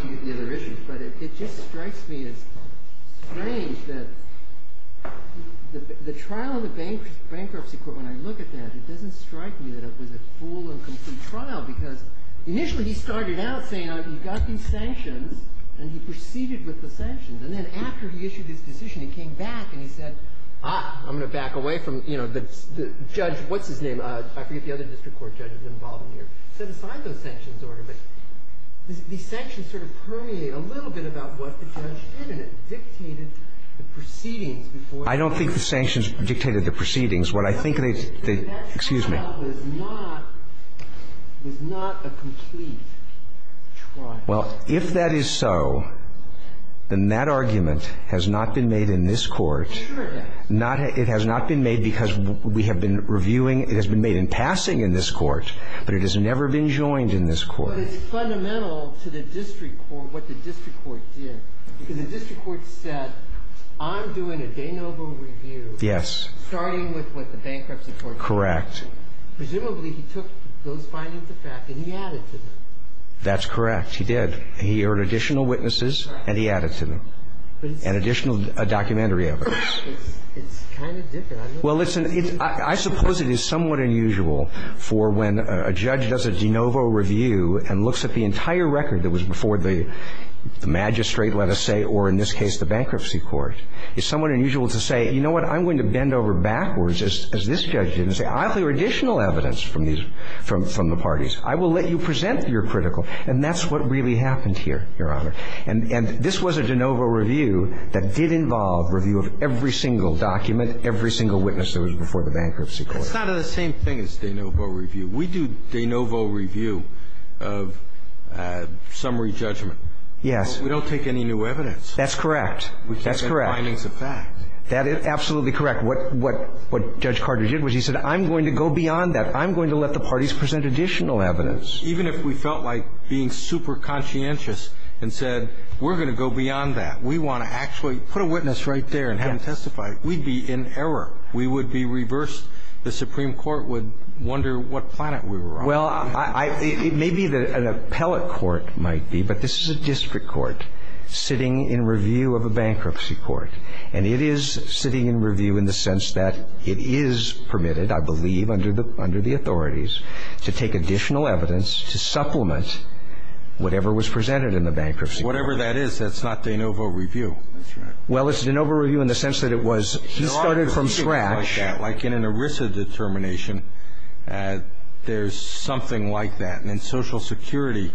But it just strikes me as strange that the trial in the bankruptcy court, when I look at that, it doesn't strike me that it was a full and complete trial because initially he started out saying, you've got these sanctions, and he proceeded with the sanctions. And then after he issued his decision, he came back and he said, ah, I'm going to back away from, you know, the judge – what's his name? I forget the other district court judge that was involved in here. I don't think the sanctions dictated the proceedings. What I think they – excuse me. Well, if that is so, then that argument has not been made in this court. It has not been made because we have been reviewing – it has been made in passing in this court, but it has never been joined in this court. But it's fundamental to the district court, what the district court did. Because the district court said, I'm doing a de novo review. Yes. Starting with what the bankruptcy court said. Correct. Presumably he took those findings of fact and he added to them. That's correct. He did. He heard additional witnesses and he added to them. And additional documentary evidence. It's kind of different. Well, it's an – I suppose it is somewhat unusual for when a judge does a de novo review and looks at the entire record that was before the magistrate, let us say, or in this case the bankruptcy court. It's somewhat unusual to say, you know what, I'm going to bend over backwards as this judge did and say, I have additional evidence from these – from the parties. I will let you present your critical. And that's what really happened here, Your Honor. And this was a de novo review that did involve review of every single document, every single witness that was before the bankruptcy court. It's not the same thing as de novo review. We do de novo review of summary judgment. Yes. But we don't take any new evidence. That's correct. That's correct. We take the findings of fact. That is absolutely correct. What Judge Carter did was he said, I'm going to go beyond that. I'm going to let the parties present additional evidence. Even if we felt like being super conscientious and said, we're going to go beyond that. We want to actually put a witness right there and have him testify. We'd be in error. We would be reversed. The Supreme Court would wonder what planet we were on. Well, it may be that an appellate court might be, but this is a district court sitting in review of a bankruptcy court. And it is sitting in review in the sense that it is permitted, I believe, under the authorities to take additional evidence to supplement whatever was presented in the bankruptcy court. Whatever that is, that's not de novo review. That's right. Well, it's de novo review in the sense that it was he started from scratch. Like in an ERISA determination, there's something like that. And in Social Security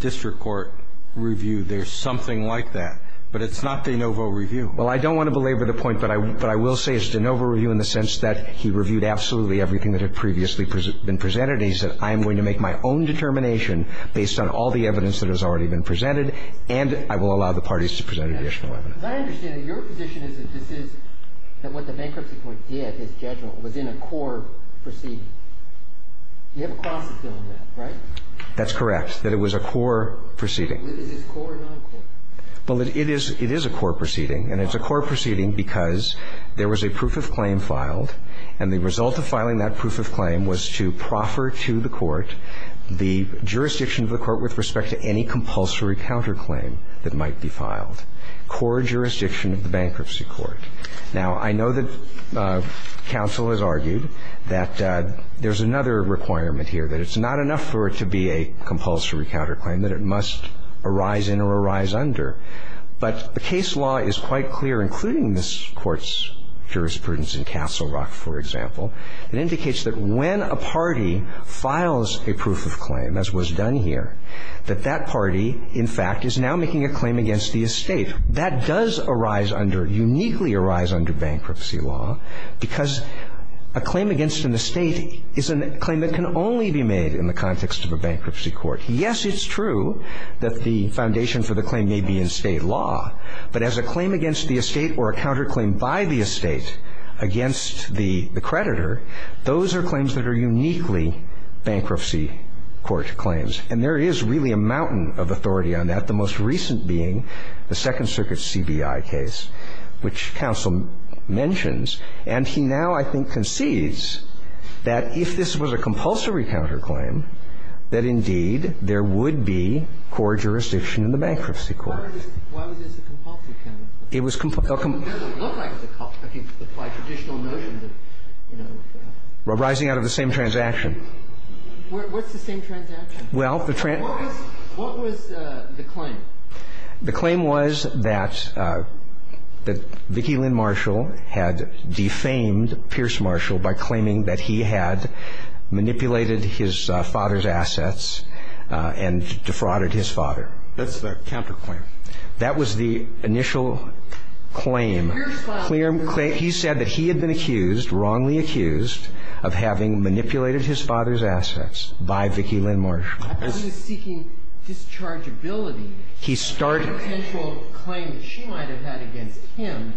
district court review, there's something like that. But it's not de novo review. Well, I don't want to belabor the point, but I will say it's de novo review in the sense that he reviewed absolutely everything that had previously been presented. He said, I am going to make my own determination based on all the evidence that has already been presented, and I will allow the parties to present additional evidence. But I understand that your position is that this is, that what the bankruptcy court did, his judgment, was in a core proceeding. You have a cross-examination on that, right? That's correct, that it was a core proceeding. Is this core or non-core? Well, it is a core proceeding, and it's a core proceeding because there was a proof of claim filed, and the result of filing that proof of claim was to proffer to the court the jurisdiction of the court with respect to any compulsory counterclaim that might be filed, core jurisdiction of the bankruptcy court. Now, I know that counsel has argued that there's another requirement here, that it's not enough for it to be a compulsory counterclaim, that it must arise in or arise under, but the case law is quite clear, including this Court's jurisprudence in Castle Rock, for example. It indicates that when a party files a proof of claim, as was done here, that that party is making a claim against the estate. That does arise under, uniquely arise under bankruptcy law because a claim against an estate is a claim that can only be made in the context of a bankruptcy court. Yes, it's true that the foundation for the claim may be in state law, but as a claim against the estate or a counterclaim by the estate against the creditor, those are claims that are uniquely bankruptcy court claims, and there is really a mountain of authority on that, the most recent being the Second Circuit's CBI case, which counsel mentions. And he now, I think, concedes that if this was a compulsory counterclaim, that indeed there would be core jurisdiction in the bankruptcy court. Why was this a compulsory counterclaim? It was compulsory. It doesn't look like a compulsory. I mean, by traditional notion that, you know. Arising out of the same transaction. What's the same transaction? Well, the transaction. What was the claim? The claim was that Vicki Lynn Marshall had defamed Pierce Marshall by claiming that he had manipulated his father's assets and defrauded his father. That's the counterclaim. That was the initial claim. In Pierce's file. He said that he had been accused, wrongly accused, of having manipulated his father's assets by Vicki Lynn Marshall. I presume he's seeking dischargeability. He started. A potential claim that she might have had against him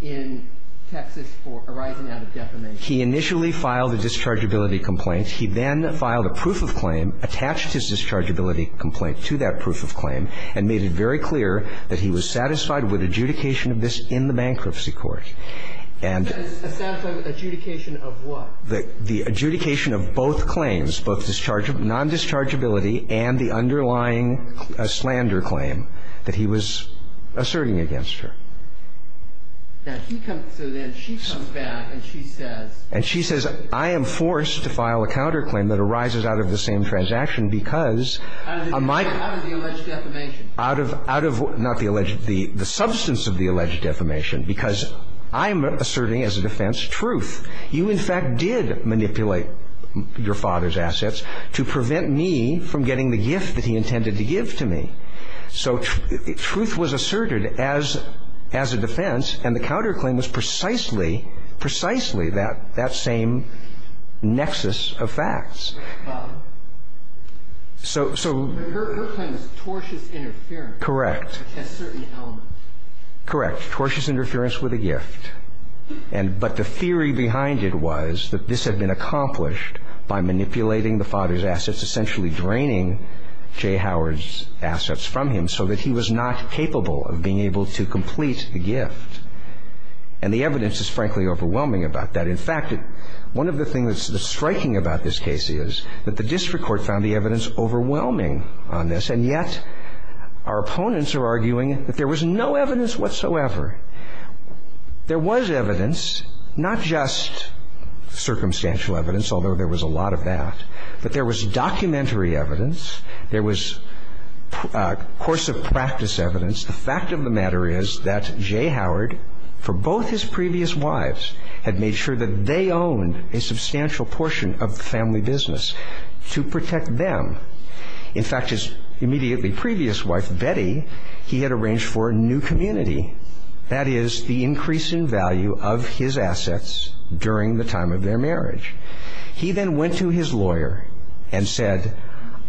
in Texas for arising out of defamation. He initially filed a dischargeability complaint. He then filed a proof of claim, attached his dischargeability complaint to that proof of claim, and made it very clear that he was satisfied with adjudication of this in the bankruptcy court. And. Adjudication of what? The adjudication of both claims, both non-dischargeability and the underlying slander claim that he was asserting against her. So then she comes back and she says. And she says, I am forced to file a counterclaim that arises out of the same transaction because. Out of the alleged defamation. Out of, not the alleged, the substance of the alleged defamation. Because I'm asserting as a defense truth. You, in fact, did manipulate your father's assets to prevent me from getting the gift that he intended to give to me. So truth was asserted as, as a defense. And the counterclaim was precisely, precisely that, that same nexus of facts. So, so. Her claim is tortious interference. Correct. At certain elements. Correct. Tortious interference with a gift. And, but the theory behind it was that this had been accomplished by manipulating the father's assets, essentially draining J. Howard's assets from him so that he was not capable of being able to complete the gift. And the evidence is frankly overwhelming about that. In fact, one of the things that's striking about this case is that the district court found the evidence overwhelming on this. And yet, our opponents are arguing that there was no evidence whatsoever. There was evidence, not just circumstantial evidence, although there was a lot of that. But there was documentary evidence. There was course of practice evidence. The fact of the matter is that J. Howard, for both his previous wives, had made sure that they owned a substantial portion of the family business to protect them. In fact, his immediately previous wife, Betty, he had arranged for a new community that is the increase in value of his assets during the time of their marriage. He then went to his lawyer and said,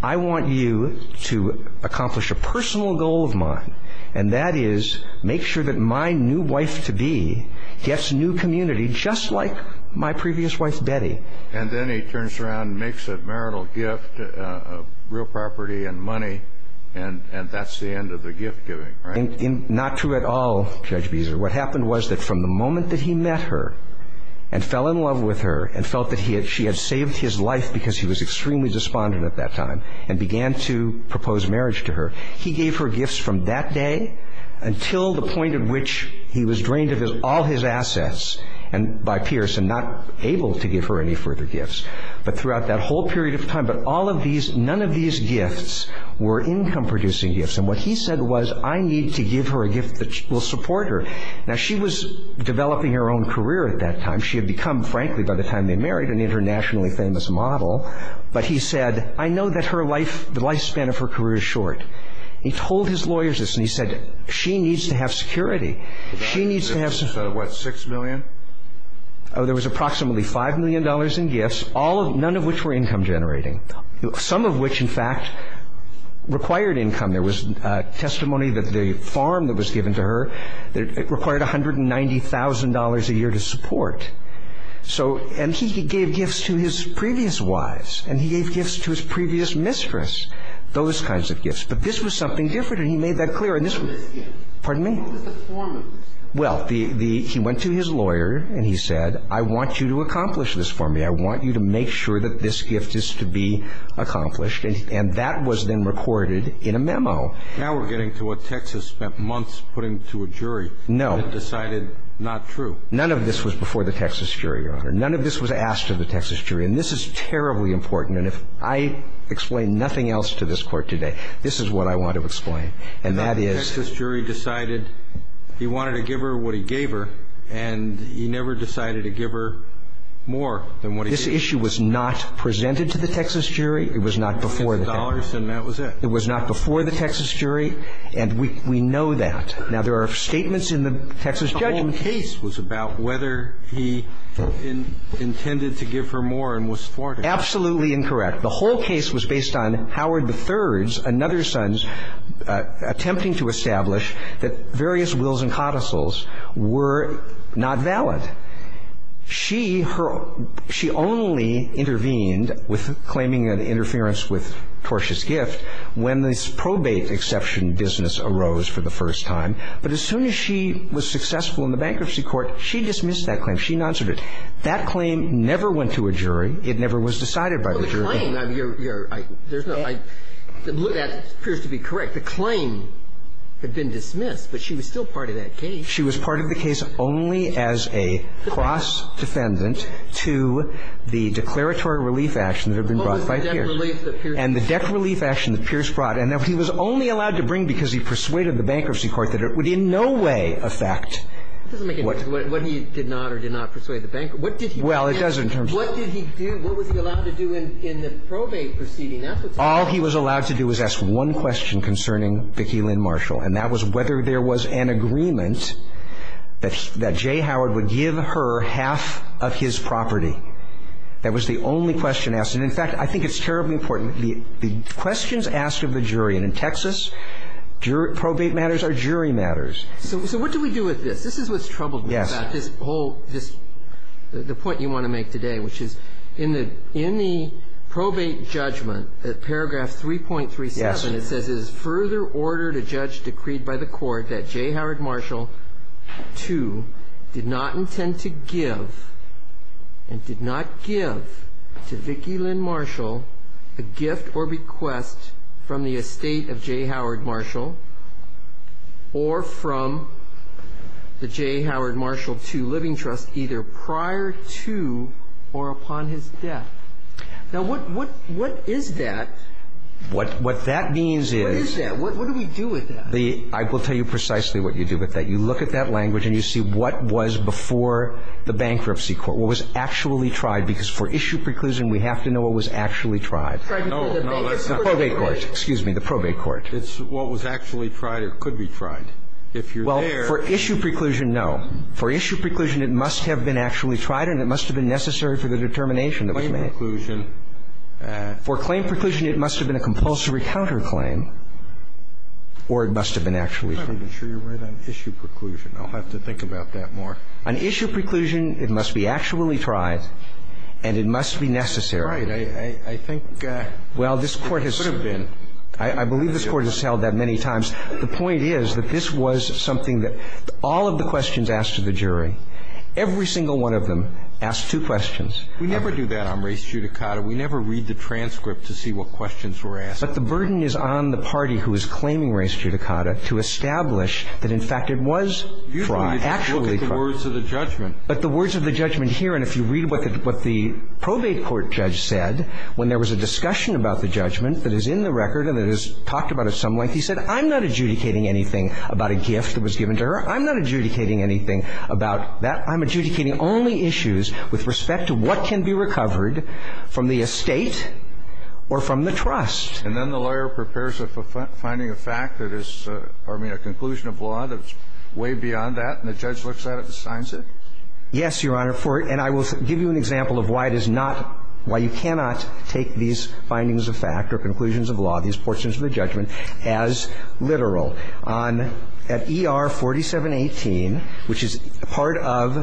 I want you to accomplish a personal goal of mine, and that is make sure that my new wife-to-be gets a new community, just like my previous wife, Betty. And then he turns around and makes a marital gift of real property and money, and that's the end of the gift giving, right? Not true at all, Judge Beezer. What happened was that from the moment that he met her and fell in love with her and felt that she had saved his life because he was extremely despondent at that time and began to propose marriage to her, he gave her gifts from that day until the point at which he was drained of all his assets by Pierce and not able to give her any further gifts, but throughout that whole period of time. But all of these, none of these gifts were income-producing gifts. And what he said was, I need to give her a gift that will support her. Now, she was developing her own career at that time. She had become, frankly, by the time they married, an internationally famous model, but he said, I know that her life, the lifespan of her career is short. He told his lawyers this, and he said, she needs to have security. She needs to have some... He said, what, $6 million? There was approximately $5 million in gifts, none of which were income-generating, some of which, in fact, required income. There was testimony that the farm that was given to her required $190,000 a year to support. And he gave gifts to his previous wives, and he gave gifts to his previous mistress, those kinds of gifts. But this was something different, and he made that clear. Pardon me? What was the formula? Well, he went to his lawyer, and he said, I want you to accomplish this for me. I want you to make sure that this gift is to be accomplished. And that was then recorded in a memo. Now we're getting to what Texas spent months putting to a jury. No. And decided not true. None of this was before the Texas jury, Your Honor. None of this was asked of the Texas jury. And this is terribly important, and if I explain nothing else to this court today, this is what I want to explain. And that is... The Texas jury decided he wanted to give her what he gave her, and he never decided to give her more than what he gave her. This issue was not presented to the Texas jury. It was not before the Texas jury. It was not before the Texas jury. And we know that. Now, there are statements in the Texas judgment. The whole case was about whether he intended to give her more and was thwarted. Absolutely incorrect. The whole case was based on Howard III's and another son's attempting to establish that various wills and codicils were not valid. She, her own, she only intervened with claiming an interference with Torsh's gift when this probate exception business arose for the first time. But as soon as she was successful in the bankruptcy court, she dismissed that claim. She noncered it. That claim never went to a jury. It never was decided by the jury. Well, the claim, I mean, you're, you're, I, there's no, I, that appears to be correct. The claim had been dismissed, but she was still part of that case. She was part of the case only as a cross-defendant to the declaratory relief action that had been brought by Pierce. What was the debt relief that Pierce brought? And the debt relief action that Pierce brought, and that he was only allowed to bring because he persuaded the bankruptcy court that it would in no way affect what he did not or did not persuade the bankruptcy court. What did he do? Well, it doesn't in terms of the court. What did he do? What was he allowed to do in the probate proceeding? All he was allowed to do was ask one question concerning Vicki Lynn Marshall, and that was whether there was an agreement that J. Howard would give her half of his property. That was the only question asked. And, in fact, I think it's terribly important. The questions asked of the jury, and in Texas, probate matters are jury matters. So what do we do with this? This is what's troubled me about this whole, this, the point you want to make today, which is in the probate judgment, at paragraph 3.37, it says, it is further ordered a judge decreed by the court that J. Howard Marshall, too, did not intend to give and did not give to Vicki Lynn Marshall a gift or request from the estate of J. Howard Marshall or from the J. Howard Marshall, too, living trust either prior to or upon his death. Now, what is that? What that means is the I will tell you precisely what you do with that. You look at that language and you see what was before the bankruptcy court, what was actually tried. Because for issue preclusion, we have to know what was actually tried. The probate court. Excuse me, the probate court. It's what was actually tried or could be tried. If you're there. Well, for issue preclusion, no. For issue preclusion, it must have been actually tried and it must have been necessary for the determination that was made. Claim preclusion. For claim preclusion, it must have been a compulsory counterclaim or it must have been actually tried. I'm not even sure you're right on issue preclusion. I'll have to think about that more. On issue preclusion, it must be actually tried and it must be necessary. Right. I think it could have been. Well, this Court has, I believe this Court has held that many times. The point is that this was something that all of the questions asked to the jury, every single one of them asked two questions. We never do that on race judicata. We never read the transcript to see what questions were asked. But the burden is on the party who is claiming race judicata to establish that, in fact, it was tried, actually tried. You don't even look at the words of the judgment. But the words of the judgment here, and if you read what the probate court judge said when there was a discussion about the judgment that is in the record and that is talked about at some length, he said, I'm not adjudicating anything about a gift that was given to her. I'm not adjudicating anything about that. I'm adjudicating only issues with respect to what can be recovered from the estate or from the trust. And then the lawyer prepares a finding of fact that is, pardon me, a conclusion of law that's way beyond that, and the judge looks at it and signs it? Yes, Your Honor. And I will give you an example of why it is not, why you cannot take these findings of fact or conclusions of law, these portions of the judgment, as literal. On ER 4718, which is part of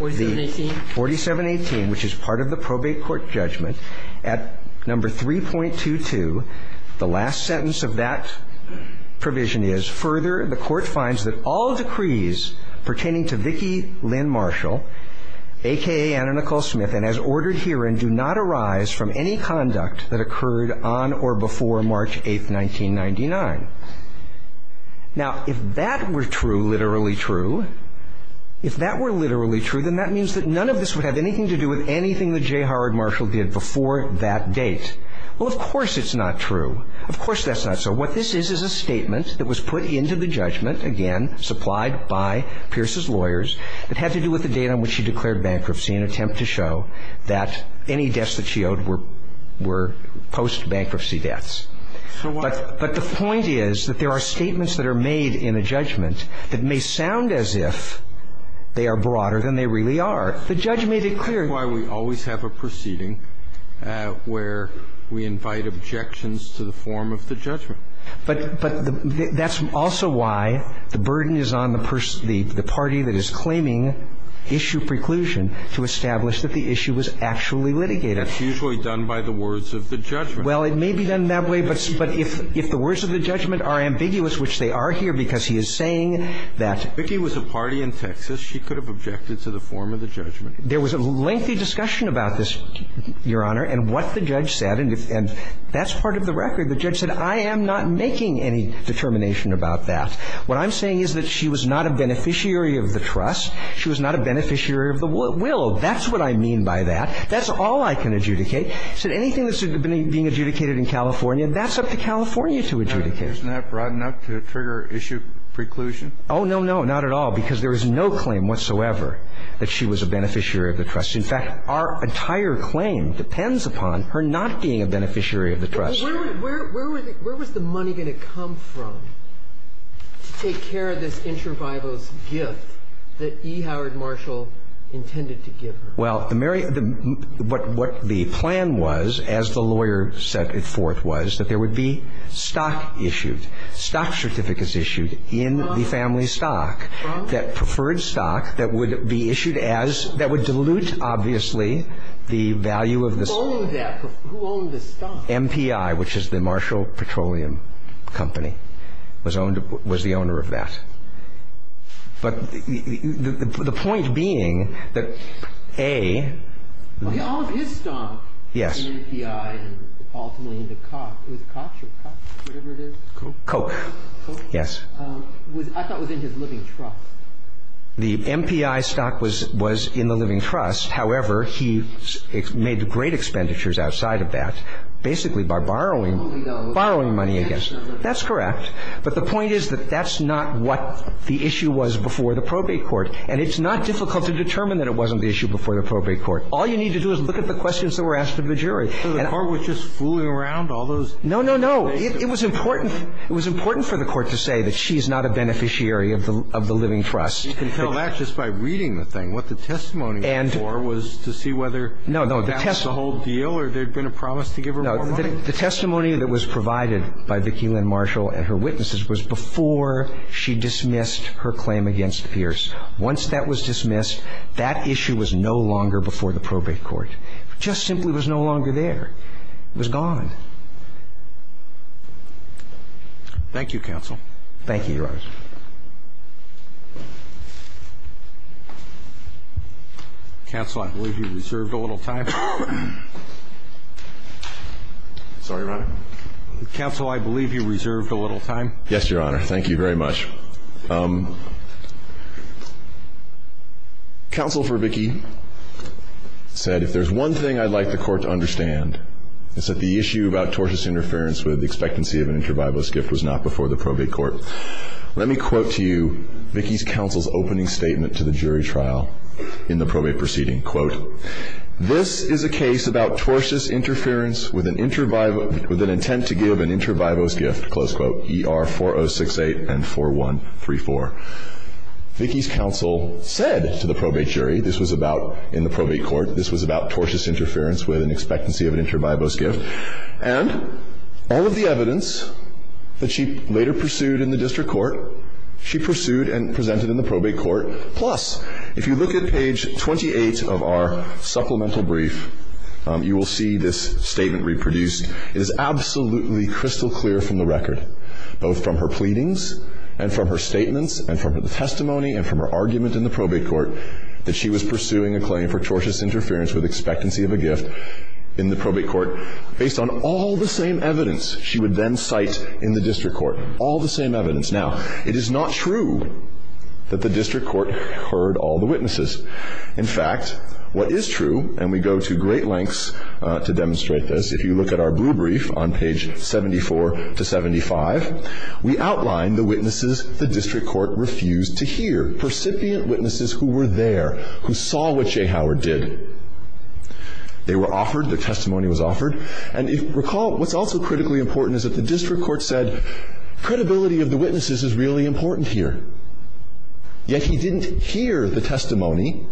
the 4718, which is part of the probate court judgment, at number 3.22, the last sentence of that provision is, further, the court finds that all decrees pertaining to Vicki Lynn Marshall, a.k.a. Anna Nicole Smith, and do not arise from any conduct that occurred on or before March 8, 1999. Now, if that were true, literally true, if that were literally true, then that means that none of this would have anything to do with anything that J. Howard Marshall did before that date. Well, of course it's not true. Of course that's not so. What this is, is a statement that was put into the judgment, again, supplied by Pierce's lawyers, that had to do with the date on which she declared bankruptcy in an attempt to show that any deaths that she owed were post-bankruptcy deaths. But the point is that there are statements that are made in a judgment that may sound as if they are broader than they really are. The judge made it clear. That's why we always have a proceeding where we invite objections to the form of the judgment. But that's also why the burden is on the party that is claiming issue preclusion to establish that the issue was actually litigated. That's usually done by the words of the judgment. Well, it may be done that way. But if the words of the judgment are ambiguous, which they are here because he is saying that he was a party in Texas, she could have objected to the form of the judgment. There was a lengthy discussion about this, Your Honor, and what the judge said. And that's part of the record. The judge said, I am not making any determination about that. What I'm saying is that she was not a beneficiary of the trust. She was not a beneficiary of the will. That's what I mean by that. That's all I can adjudicate. He said anything that's being adjudicated in California, that's up to California to adjudicate. Kennedy. Isn't that broad enough to trigger issue preclusion? Oh, no, no. Not at all. Because there is no claim whatsoever that she was a beneficiary of the trust. In fact, our entire claim depends upon her not being a beneficiary of the trust. So where was the money going to come from to take care of this intravivos gift that E. Howard Marshall intended to give her? Well, what the plan was, as the lawyer said before it was, that there would be stock issued, stock certificates issued in the family stock, that preferred stock that would be issued as that would dilute, obviously, the value of the stock. Who owned that? Who owned the stock? M.P.I., which is the Marshall Petroleum Company, was the owner of that. But the point being that, A. All of his stock was in M.P.I. and ultimately into Koch. Was it Koch or whatever it is? Koch. Koch? Yes. I thought it was in his living trust. The M.P.I. stock was in the living trust. However, he made great expenditures outside of that, basically by borrowing money, I guess. That's correct. But the point is that that's not what the issue was before the probate court. And it's not difficult to determine that it wasn't the issue before the probate court. All you need to do is look at the questions that were asked of the jury. So the court was just fooling around, all those? No, no, no. It was important. It was important for the court to say that she's not a beneficiary of the living You can tell that just by reading the thing. What the testimony was for was to see whether that was the whole deal or there had been a promise to give her more money. The testimony that was provided by Vicki Lynn Marshall and her witnesses was before she dismissed her claim against Pierce. Once that was dismissed, that issue was no longer before the probate court. It just simply was no longer there. It was gone. Thank you, counsel. Thank you, Your Honor. Counsel, I believe you reserved a little time. Sorry, Your Honor? Counsel, I believe you reserved a little time. Yes, Your Honor. Thank you very much. Counsel for Vicki said, if there's one thing I'd like the court to understand, it's that the issue about tortious interference with expectancy of an interbibalist gift was not before the probate court. Let me quote to you Vicki's counsel's opening statement to the jury trial in the probate proceeding. Quote, this is a case about tortious interference with an interbibalist with an intent to give an interbibalist gift, close quote, ER 4068 and 4134. Vicki's counsel said to the probate jury this was about, in the probate court, this was about tortious interference with an expectancy of an interbibalist gift and all of the evidence that she later pursued in the district court, she pursued and presented in the probate court. Plus, if you look at page 28 of our supplemental brief, you will see this statement reproduced. It is absolutely crystal clear from the record, both from her pleadings and from her statements and from her testimony and from her argument in the probate court, that she was pursuing a claim for tortious interference with expectancy of a gift in the probate court based on all the same evidence she would then cite in the district court, all the same evidence. Now, it is not true that the district court heard all the witnesses. In fact, what is true, and we go to great lengths to demonstrate this, if you look at our blue brief on page 74 to 75, we outline the witnesses the district court refused to hear, percipient witnesses who were there, who saw what Jay Howard did. They were offered, their testimony was offered. And if you recall, what's also critically important is that the district court said, credibility of the witnesses is really important here. Yet he didn't hear the testimony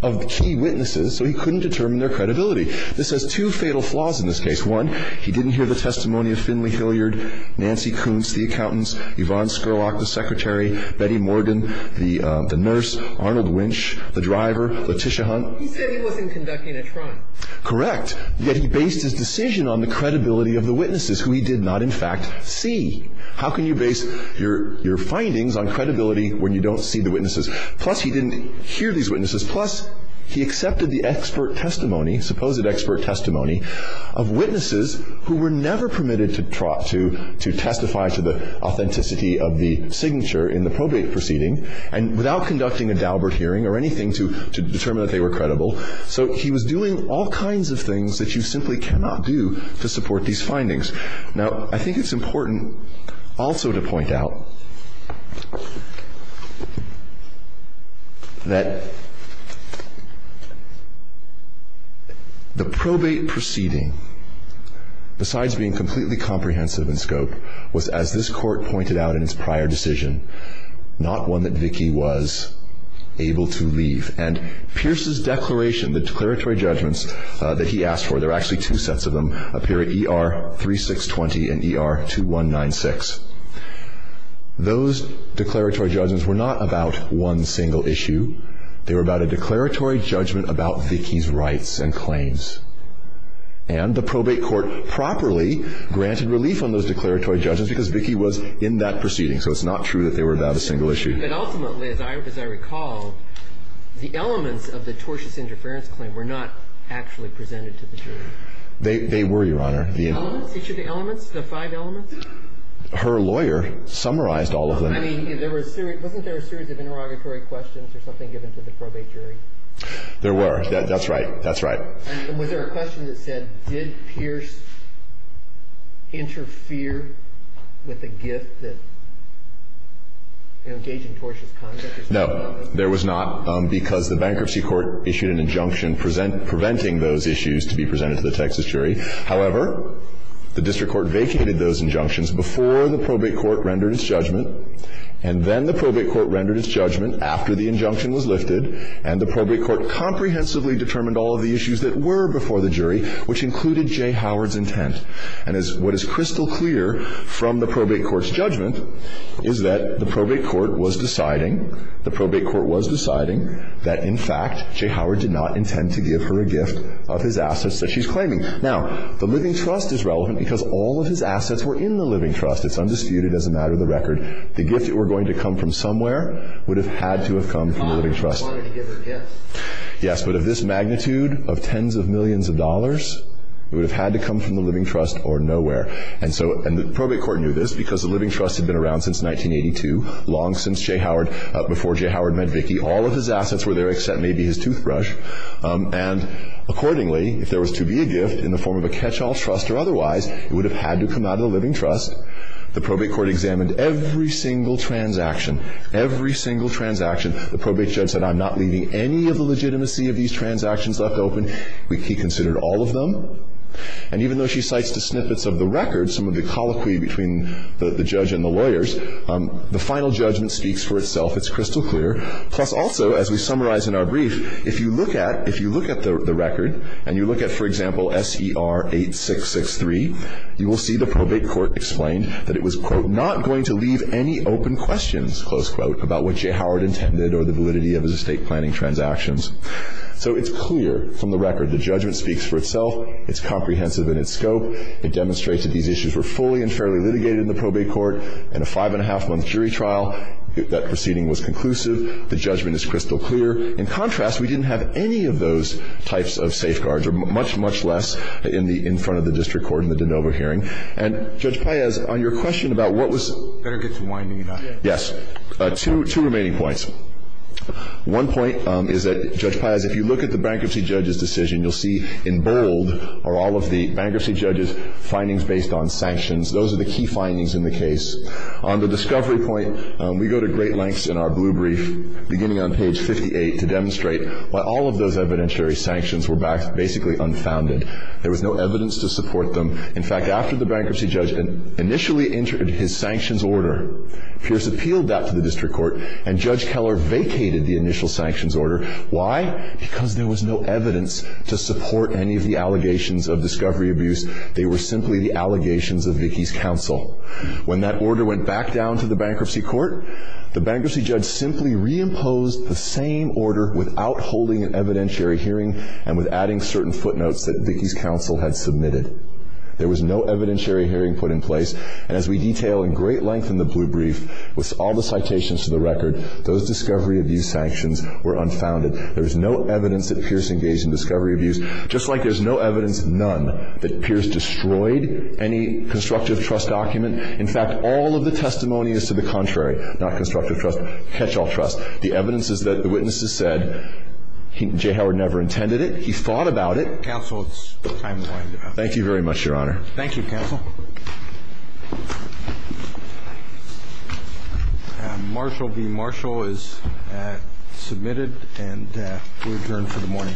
of the key witnesses, so he couldn't determine their credibility. This has two fatal flaws in this case. One, he didn't hear the testimony of Finley Hilliard, Nancy Kuntz, the accountants, Yvonne Scurlock, the secretary, Betty Morgan, the nurse, Arnold Winch, the driver, Letitia Hunt. He said he wasn't conducting a trial. Correct. Yet he based his decision on the credibility of the witnesses, who he did not, in fact, see. How can you base your findings on credibility when you don't see the witnesses? Plus, he didn't hear these witnesses. Plus, he accepted the expert testimony, supposed expert testimony, of witnesses who were never permitted to testify to the authenticity of the signature in the probate proceeding, and without conducting a Daubert hearing or anything to determine that they were credible. So he was doing all kinds of things that you simply cannot do to support these findings. Now, I think it's important also to point out that the probate proceeding besides being completely comprehensive in scope was, as this court pointed out in its prior decision, not one that Vicki was able to leave. And Pierce's declaration, the declaratory judgments that he asked for, there are actually two sets of them up here at ER 3620 and ER 2196. Those declaratory judgments were not about one single issue. They were about a declaratory judgment about Vicki's rights and claims. And the probate court properly granted relief on those declaratory judgments because Vicki was in that proceeding. So it's not true that they were about a single issue. But ultimately, as I recall, the elements of the tortious interference claim were not actually presented to the jury. They were, Your Honor. The elements? Did you say the elements, the five elements? Her lawyer summarized all of them. I mean, wasn't there a series of interrogatory questions or something given to the probate jury? There were. That's right. And was there a question that said, did Pierce interfere with a gift that engaged in tortious conduct? No, there was not, because the bankruptcy court issued an injunction preventing those issues to be presented to the Texas jury. However, the district court vacated those injunctions before the probate court rendered its judgment. And then the probate court rendered its judgment after the injunction was lifted, and the probate court comprehensively determined all of the issues that were before the jury, which included Jay Howard's intent. And what is crystal clear from the probate court's judgment is that the probate court was deciding, the probate court was deciding that, in fact, Jay Howard did not intend to give her a gift of his assets that she's claiming. Now, the living trust is relevant because all of his assets were in the living trust. It's undisputed as a matter of the record. The gift that were going to come from somewhere would have had to have come from the living trust. Yes, but of this magnitude of tens of millions of dollars, it would have had to come from the living trust or nowhere. And so the probate court knew this because the living trust had been around since 1982, long since Jay Howard, before Jay Howard met Vicki. All of his assets were there except maybe his toothbrush. And accordingly, if there was to be a gift in the form of a catch-all trust or otherwise, it would have had to come out of the living trust. The probate court examined every single transaction, every single transaction. The probate judge said, I'm not leaving any of the legitimacy of these transactions left open. He considered all of them. And even though she cites the snippets of the record, some of the colloquy between the judge and the lawyers, the final judgment speaks for itself. It's crystal clear. Plus, also, as we summarize in our brief, if you look at the record and you look at, for example, SER 8663, you will see the probate court explained that it was, quote, not going to leave any open questions, close quote, about what Jay Howard intended or the validity of his estate planning transactions. So it's clear from the record the judgment speaks for itself. It's comprehensive in its scope. It demonstrates that these issues were fully and fairly litigated in the probate court in a five-and-a-half-month jury trial. That proceeding was conclusive. The judgment is crystal clear. In contrast, we didn't have any of those types of safeguards or much, much less in front of the district court in the de novo hearing. And, Judge Páez, on your question about what was — Better get to winding it up. Yes. Two remaining points. One point is that, Judge Páez, if you look at the bankruptcy judge's decision, you'll see in bold are all of the bankruptcy judge's findings based on sanctions. Those are the key findings in the case. On the discovery point, we go to great lengths in our blue brief, beginning on page 58, to demonstrate why all of those evidentiary sanctions were basically unfounded. There was no evidence to support them. In fact, after the bankruptcy judge initially entered his sanctions order, Pierce appealed that to the district court, and Judge Keller vacated the initial sanctions order. Why? Because there was no evidence to support any of the allegations of discovery abuse. They were simply the allegations of Vickie's counsel. When that order went back down to the bankruptcy court, the bankruptcy judge simply reimposed the same order without holding an evidentiary hearing and without adding certain footnotes that Vickie's counsel had submitted. There was no evidentiary hearing put in place. And as we detail in great length in the blue brief, with all the citations to the record, those discovery abuse sanctions were unfounded. There was no evidence that Pierce engaged in discovery abuse, just like there's no evidence, none, that Pierce destroyed any constructive trust document. In fact, all of the testimony is to the contrary, not constructive trust, catch-all trust. The evidence is that the witnesses said J. Howard never intended it. He thought about it. Counsel, it's time to wind it up. Thank you very much, Your Honor. Thank you, Counsel. Marshall v. Marshall is submitted, and we return for the morning.